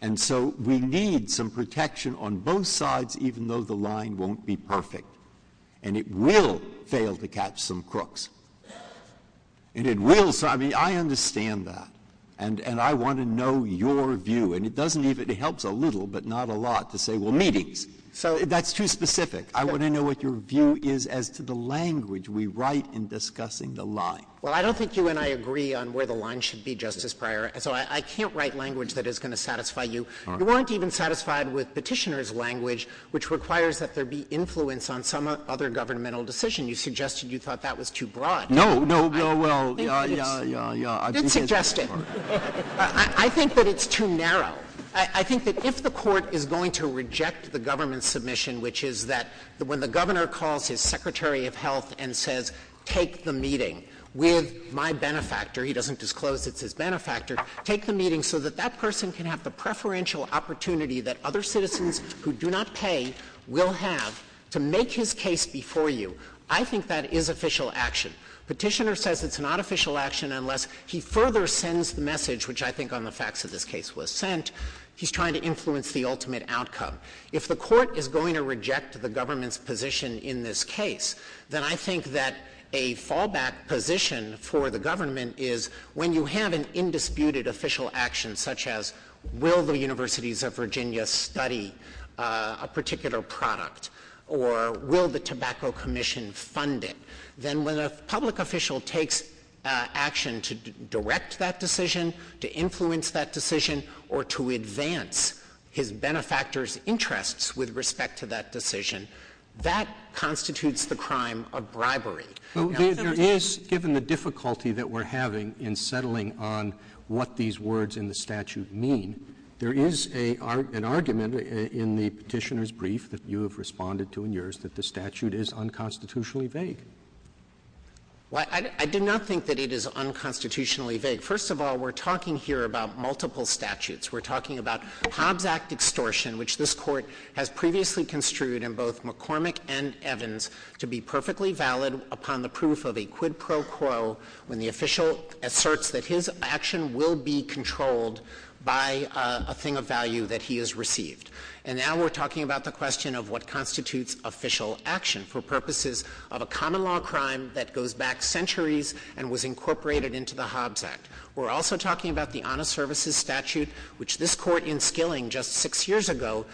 And so we need some protection on both sides, even though the line won't be perfect. And it will fail to catch some crooks. And it will — I mean, I understand that. And I want to know your view. And it doesn't even — it helps a little, but not a lot, to say, well, meetings. That's too specific. I want to know what your view is as to the language we write in discussing the line. Well, I don't think you and I agree on where the line should be, Justice Breyer. So I can't write language that is going to satisfy you. All right. You weren't even satisfied with Petitioner's language, which requires that there be influence on some other governmental decision. You suggested you thought that was too broad. No. No. No. Well, yeah, yeah, yeah. I did suggest it. I think that it's too narrow. I think that if the Court is going to reject the government's submission, which is that when the governor calls his secretary of health and says, take the meeting with my benefactor — he doesn't disclose it's his benefactor — take the meeting so that that person can have the preferential opportunity that other citizens who do not pay will have to make his case before you, I think that is official action. Petitioner says it's not official action unless he further sends the message, which I think on the facts of this case was sent, he's trying to influence the ultimate outcome. If the Court is going to reject the government's position in this case, then I think that a fallback position for the government is when you have an indisputed official action, such as will the Universities of Virginia study a particular product, or will the Tobacco Commission fund it, then when a public official takes action to direct that decision, to influence that decision, or to advance his benefactor's interests with respect to that decision, that constitutes the crime of bribery. There is, given the difficulty that we're having in settling on what these words in the statute mean, there is an argument in the Petitioner's brief that you have responded to in yours that the statute is unconstitutionally vague. Well, I do not think that it is unconstitutionally vague. First of all, we're talking here about multiple statutes. We're talking about Hobbs Act extortion, which this Court has previously construed in both McCormick and Evans to be perfectly valid upon the proof of a quid pro quo when the official asserts that his action will be controlled by a thing of value that he has received. And now we're talking about the question of what constitutes official action for purposes of a common law crime that goes back centuries and was incorporated into the Hobbs Act. We're also talking about the Honest Services statute, which this Court in Skilling just six years ago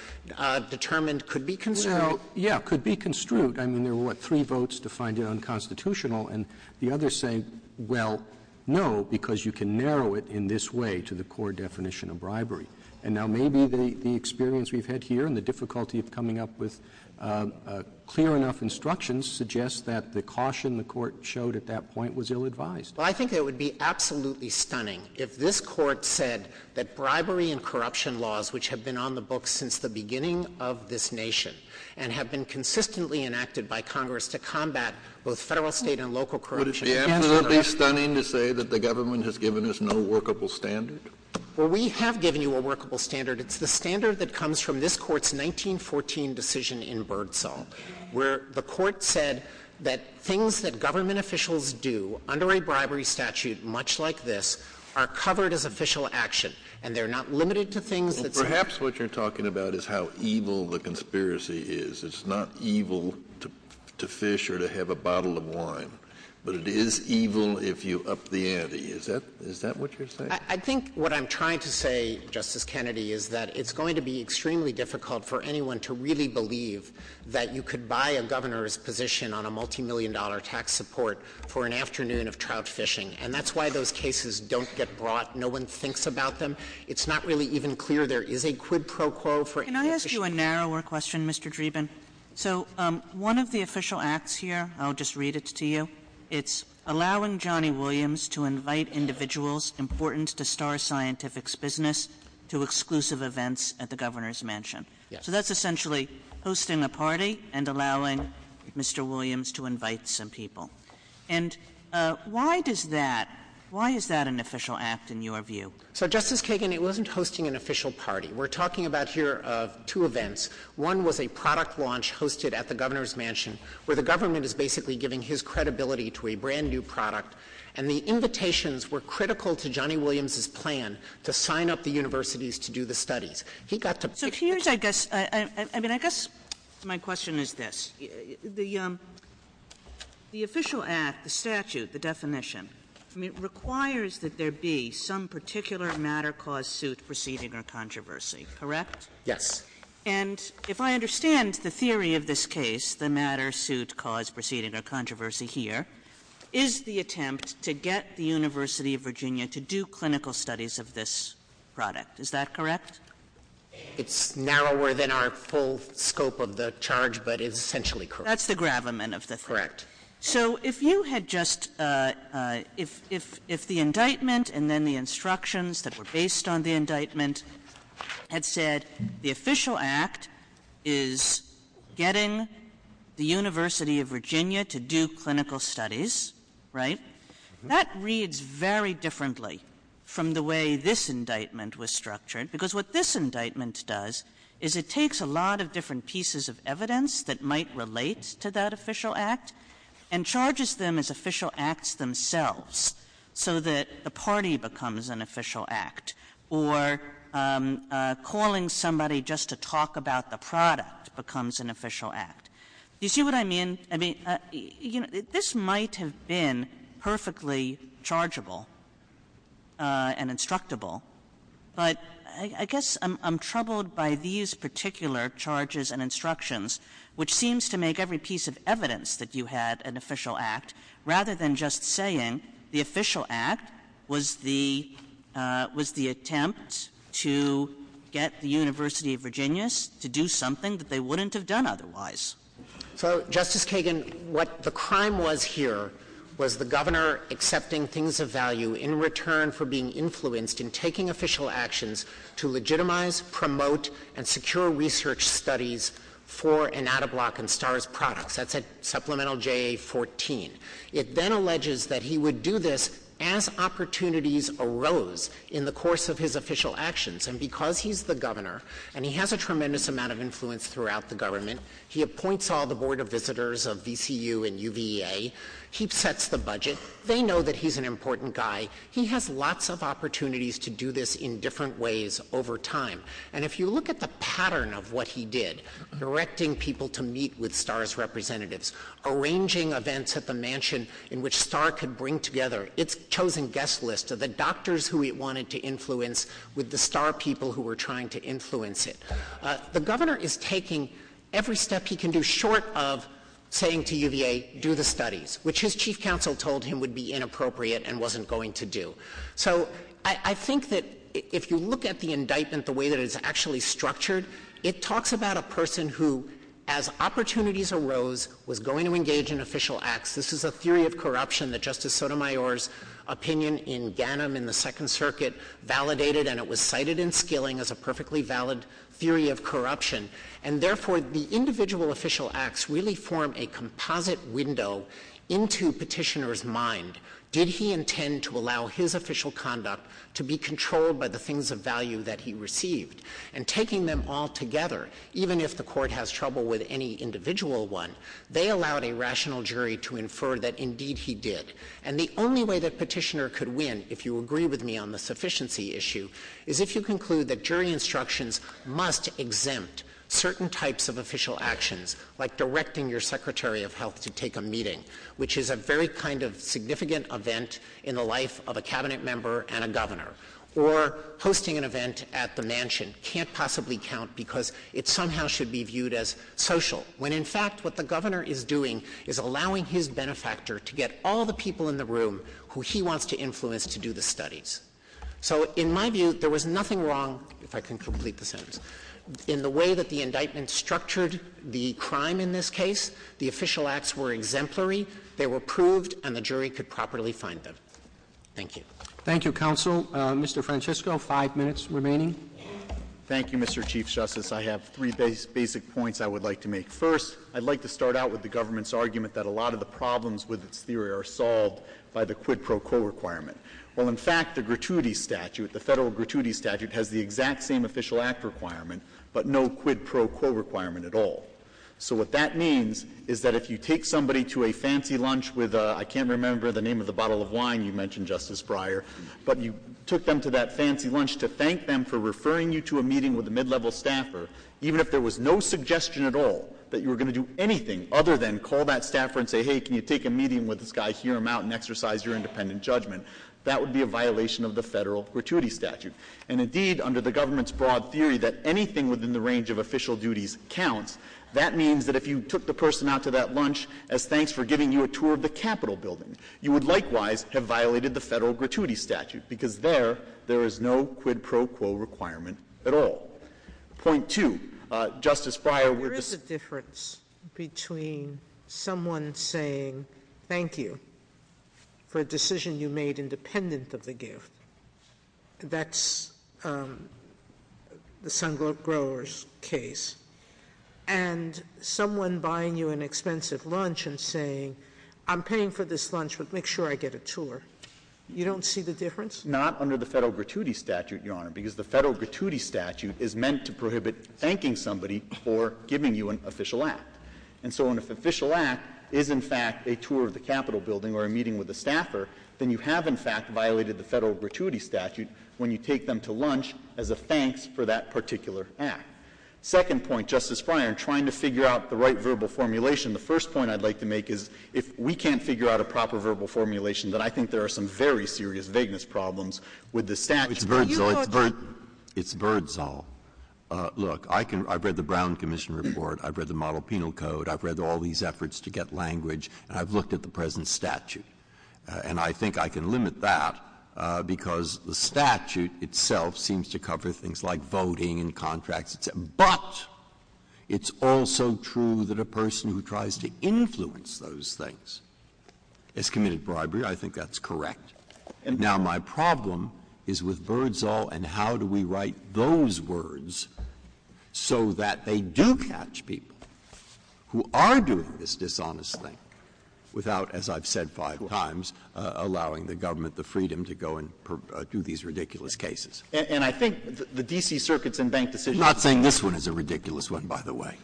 determined could be construed. Well, yeah, could be construed. I mean, there were, what, three votes to find it unconstitutional, and the others say, well, no, because you can narrow it in this way to the core definition of bribery. And now maybe the experience we've had here and the difficulty of coming up with clear enough instructions suggests that the caution the Court showed at that point was ill-advised. Well, I think it would be absolutely stunning if this Court said that bribery and corruption laws, which have been on the books since the beginning of this nation and have been consistently enacted by Congress to combat both Federal, State, and local corruption. Would it be absolutely stunning to say that the government has given us no workable standard? Well, we have given you a workable standard. It's the standard that comes from this Court's 1914 decision in Birdsong, where the Court said that things that government officials do under a bribery statute much like this are covered as official action, and they're not limited to things that say — Well, perhaps what you're talking about is how evil the conspiracy is. It's not evil to fish or to have a bottle of wine, but it is evil if you up the ante. Is that what you're saying? I think what I'm trying to say, Justice Kennedy, is that it's going to be extremely difficult for anyone to really believe that you could buy a governor's position on a multimillion-dollar tax support for an afternoon of trout fishing. And that's why those cases don't get brought. No one thinks about them. It's not really even clear there is a quid pro quo for any official action. Can I ask you a narrower question, Mr. Dreeben? So one of the official acts here — I'll just read it to you — it's allowing Johnny Williams to invite individuals important to Star Scientific's business to exclusive events at the governor's mansion. Yes. So that's essentially hosting a party and allowing Mr. Williams to invite some people. And why does that — why is that an official act in your view? So, Justice Kagan, it wasn't hosting an official party. We're talking about here of two events. One was a product launch hosted at the governor's mansion where the government is basically giving his credibility to a brand-new product. And the invitations were critical to Johnny Williams's plan to sign up the universities to do the studies. He got to pick — So here's, I guess — I mean, I guess my question is this. The official act, the statute, the definition, I mean, requires that there be some particular matter, cause, suit, proceeding or controversy. Correct? Yes. And if I understand the theory of this case, the matter, suit, cause, proceeding or controversy here, is the attempt to get the University of Virginia to do clinical studies of this product. Is that correct? It's narrower than our full scope of the charge, but it's essentially correct. That's the gravamen of the thing. Correct. So, if you had just — if the indictment and then the instructions that were based on the indictment had said the official act is getting the University of Virginia to do clinical studies, right, that reads very differently from the way this indictment was What this indictment does is it takes a lot of different pieces of evidence that might relate to that official act and charges them as official acts themselves so that the party becomes an official act, or calling somebody just to talk about the product becomes an official act. Do you see what I mean? I mean, this might have been perfectly chargeable and instructable, but I guess I'm troubled by these particular charges and instructions, which seems to make every piece of evidence that you had an official act, rather than just saying the official act was the — was the attempt to get the University of Virginia to do something that they wouldn't have done otherwise. So, Justice Kagan, what the crime was here was the Governor accepting things of value in return for being influenced in taking official actions to legitimize, promote, and secure research studies for Inattablock and Starr's products. That's at supplemental JA-14. It then alleges that he would do this as opportunities arose in the course of his official actions. And because he's the Governor and he has a tremendous amount of influence throughout the government, he appoints all the Board of Visitors of VCU and UVA, he sets the budget, they know that he's an important guy, he has lots of opportunities to do this in different ways over time. And if you look at the pattern of what he did, directing people to meet with Starr's representatives, arranging events at the mansion in which Starr could bring together its chosen guest list of the doctors who he wanted to influence with the Starr people who were trying to influence it, the Governor is taking every step he can do short of saying to UVA, do the studies, which his Chief Counsel told him would be inappropriate and wasn't going to do. So, I think that if you look at the indictment the way that it's actually structured, it arose, was going to engage in official acts. This is a theory of corruption that Justice Sotomayor's opinion in Ganem in the Second Circuit validated and it was cited in Skilling as a perfectly valid theory of corruption. And, therefore, the individual official acts really form a composite window into Petitioner's mind. Did he intend to allow his official conduct to be controlled by the things of value that he received? And, taking them all together, even if the Court has trouble with any individual one, they allowed a rational jury to infer that, indeed, he did. And, the only way that Petitioner could win, if you agree with me on the sufficiency issue, is if you conclude that jury instructions must exempt certain types of official actions, like directing your Secretary of Health to take a meeting, which is a very kind of significant event in the life of a Cabinet member and a governor, or hosting an event at the mansion can't possibly count because it somehow should be viewed as social, when, in fact, what the governor is doing is allowing his benefactor to get all the people in the room who he wants to influence to do the studies. So, in my view, there was nothing wrong, if I can complete the sentence, in the way that the indictment structured the crime in this case. The official acts were exemplary, they were proved, and the jury could properly find them. Thank you. Roberts. Thank you, counsel. Mr. Francisco, five minutes remaining. Francisco. Thank you, Mr. Chief Justice. I have three basic points I would like to make. First, I'd like to start out with the government's argument that a lot of the problems with its theory are solved by the quid pro quo requirement. Well, in fact, the gratuity statute, the Federal gratuity statute, has the exact same official act requirement, but no quid pro quo requirement at all. So what that means is that if you take somebody to a fancy lunch with a, I can't remember the name of the bottle of wine you mentioned, Justice Breyer, but you took them to that fancy lunch to thank them for referring you to a meeting with a mid-level staffer, even if there was no suggestion at all that you were going to do anything other than call that staffer and say, hey, can you take a meeting with this guy, hear him out, and exercise your independent judgment, that would be a violation of the Federal gratuity statute. And, indeed, under the government's broad theory that anything within the range of a quid pro quo requirement is allowed, that means that if you took the person out to that lunch as thanks for giving you a tour of the Capitol building, you would likewise have violated the Federal gratuity statute, because there, there is no quid pro quo requirement at all. Point two. Justice Breyer, we're just — Sotomayor. There is a difference between someone saying thank you for a decision you made independent of the gift. That's the Sun Grower's case. And someone buying you an expensive lunch and saying, I'm paying for this lunch, but make sure I get a tour, you don't see the difference? Not under the Federal gratuity statute, Your Honor, because the Federal gratuity statute is meant to prohibit thanking somebody for giving you an official act. And so if an official act is, in fact, a tour of the Capitol building or a meeting with a staffer, then you have, in fact, violated the Federal gratuity statute when you take them to lunch as a thanks for that particular act. Second point, Justice Breyer, in trying to figure out the right verbal formulation, the first point I'd like to make is if we can't figure out a proper verbal formulation, then I think there are some very serious vagueness problems with the statute. It's Birdzall. It's Birdzall. Look, I can — I've read the Brown Commission report. I've read the Model Penal Code. I've read all these efforts to get language. And I've looked at the present statute. And I think I can limit that because the statute itself seems to cover things like voting and contracts, et cetera. But it's also true that a person who tries to influence those things has committed bribery. I think that's correct. Now, my problem is with Birdzall and how do we write those words so that they do catch people who are doing this dishonest thing without, as I've said five times, allowing the government the freedom to go and do these ridiculous cases? And I think the D.C. Circuit's in-bank decision — I'm not saying this one is a ridiculous one, by the way.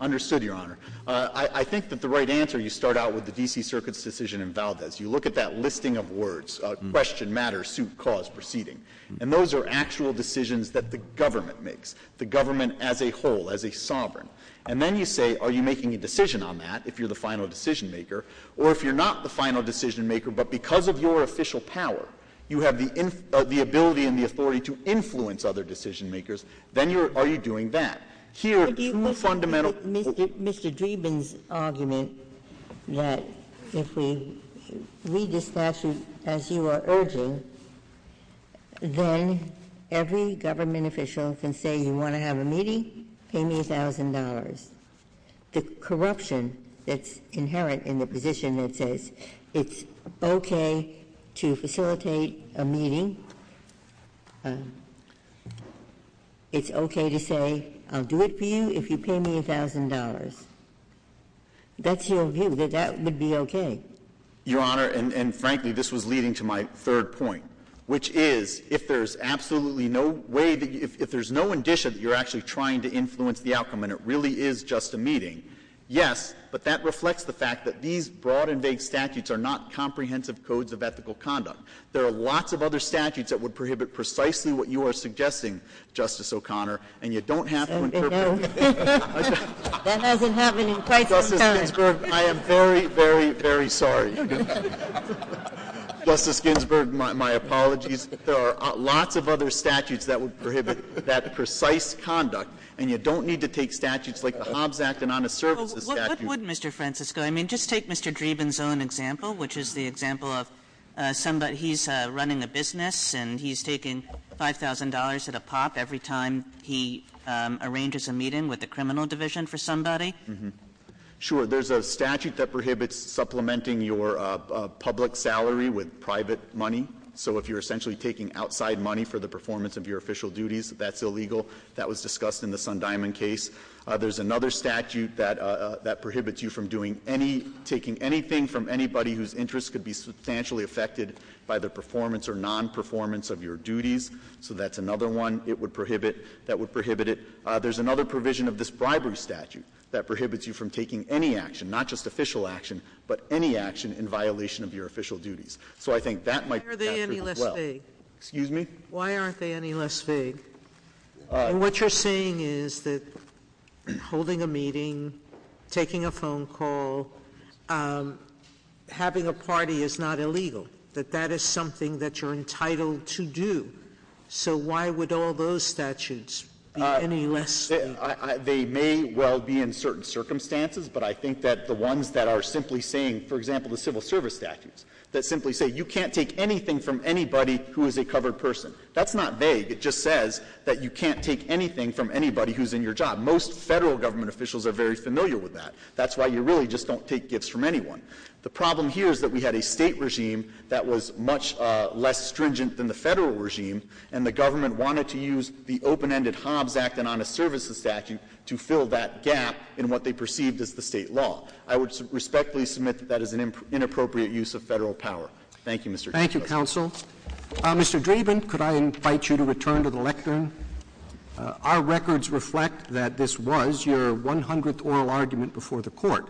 Understood, Your Honor. I think that the right answer, you start out with the D.C. Circuit's decision in Valdez. You look at that listing of words, question, matter, suit, cause, proceeding. And those are actual decisions that the government makes, the government as a whole, as a sovereign. And then you say, are you making a decision on that, if you're the final decision-maker? Or if you're not the final decision-maker, but because of your official power, you have the ability and the authority to influence other decision-makers, then are you doing that? Here, the fundamental — Mr. Dreeben's argument that if we read the statute as you are urging, then every government official can say, you want to have a meeting? Pay me $1,000. The corruption that's inherent in the position that says it's okay to facilitate a meeting, it's okay to say, I'll do it for you if you pay me $1,000. That's your view, that that would be okay. Your Honor, and frankly, this was leading to my third point, which is, if there's absolutely no way — if there's no indicia that you're actually trying to influence the outcome and it really is just a meeting, yes, but that reflects the fact that these broad and vague statutes are not comprehensive codes of ethical conduct. There are lots of other statutes that would prohibit precisely what you are suggesting, Justice O'Connor, and you don't have to interpret — That doesn't happen in prison time. Justice Ginsburg, I am very, very, very sorry. Justice Ginsburg, my apologies. There are lots of other statutes that would prohibit that precise conduct, and you don't need to take statutes like the Hobbs Act and honest services statute. Well, what would, Mr. Francisco — I mean, just take Mr. Dreeben's own example, which is the example of somebody — he's running a business and he's taking $5,000 at a pop every time he arranges a meeting with the criminal division for somebody. Sure. There's a statute that prohibits supplementing your public salary with private money. So if you're essentially taking outside money for the performance of your official duties, that's illegal. That was discussed in the Sundiamond case. There's another statute that prohibits you from doing any — taking anything from anybody whose interests could be substantially affected by the performance or nonperformance of your duties. So that's another one it would prohibit — that would prohibit it. There's another provision of this bribery statute that prohibits you from taking any action, not just official action, but any action in violation of your official duties. So I think that might be captured as well. Why are they any less vague? Excuse me? Why aren't they any less vague? What you're saying is that holding a meeting, taking a phone call, having a party is not illegal, that that is something that you're entitled to do. So why would all those statutes be any less vague? They may well be in certain circumstances, but I think that the ones that are simply saying — for example, the civil service statutes that simply say you can't take anything from anybody who is a covered person. That's not vague. It just says that you can't take anything from anybody who's in your job. Most Federal government officials are very familiar with that. That's why you really just don't take gifts from anyone. The problem here is that we had a State regime that was much less stringent than the Federal regime, and the government wanted to use the open-ended Hobbs Act and honest services statute to fill that gap in what they perceived as the State law. I would respectfully submit that that is an inappropriate use of Federal power. Thank you, Mr. Chief Justice. Thank you, counsel. Mr. Dreeben, could I invite you to return to the lectern? Our records reflect that this was your 100th oral argument before the Court.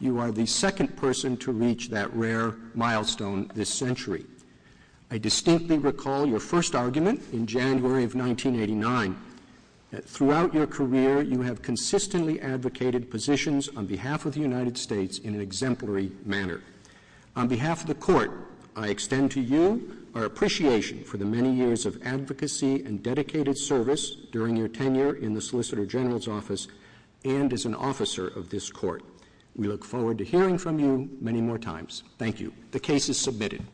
You are the second person to reach that rare milestone this century. I distinctly recall your first argument in January of 1989. Throughout your career, you have consistently advocated positions on behalf of the United States in an exemplary manner. On behalf of the Court, I extend to you our appreciation for the many years of advocacy and dedicated service during your tenure in the Solicitor General's Office and as an officer of this Court. We look forward to hearing from you many more times. Thank you. The case is submitted.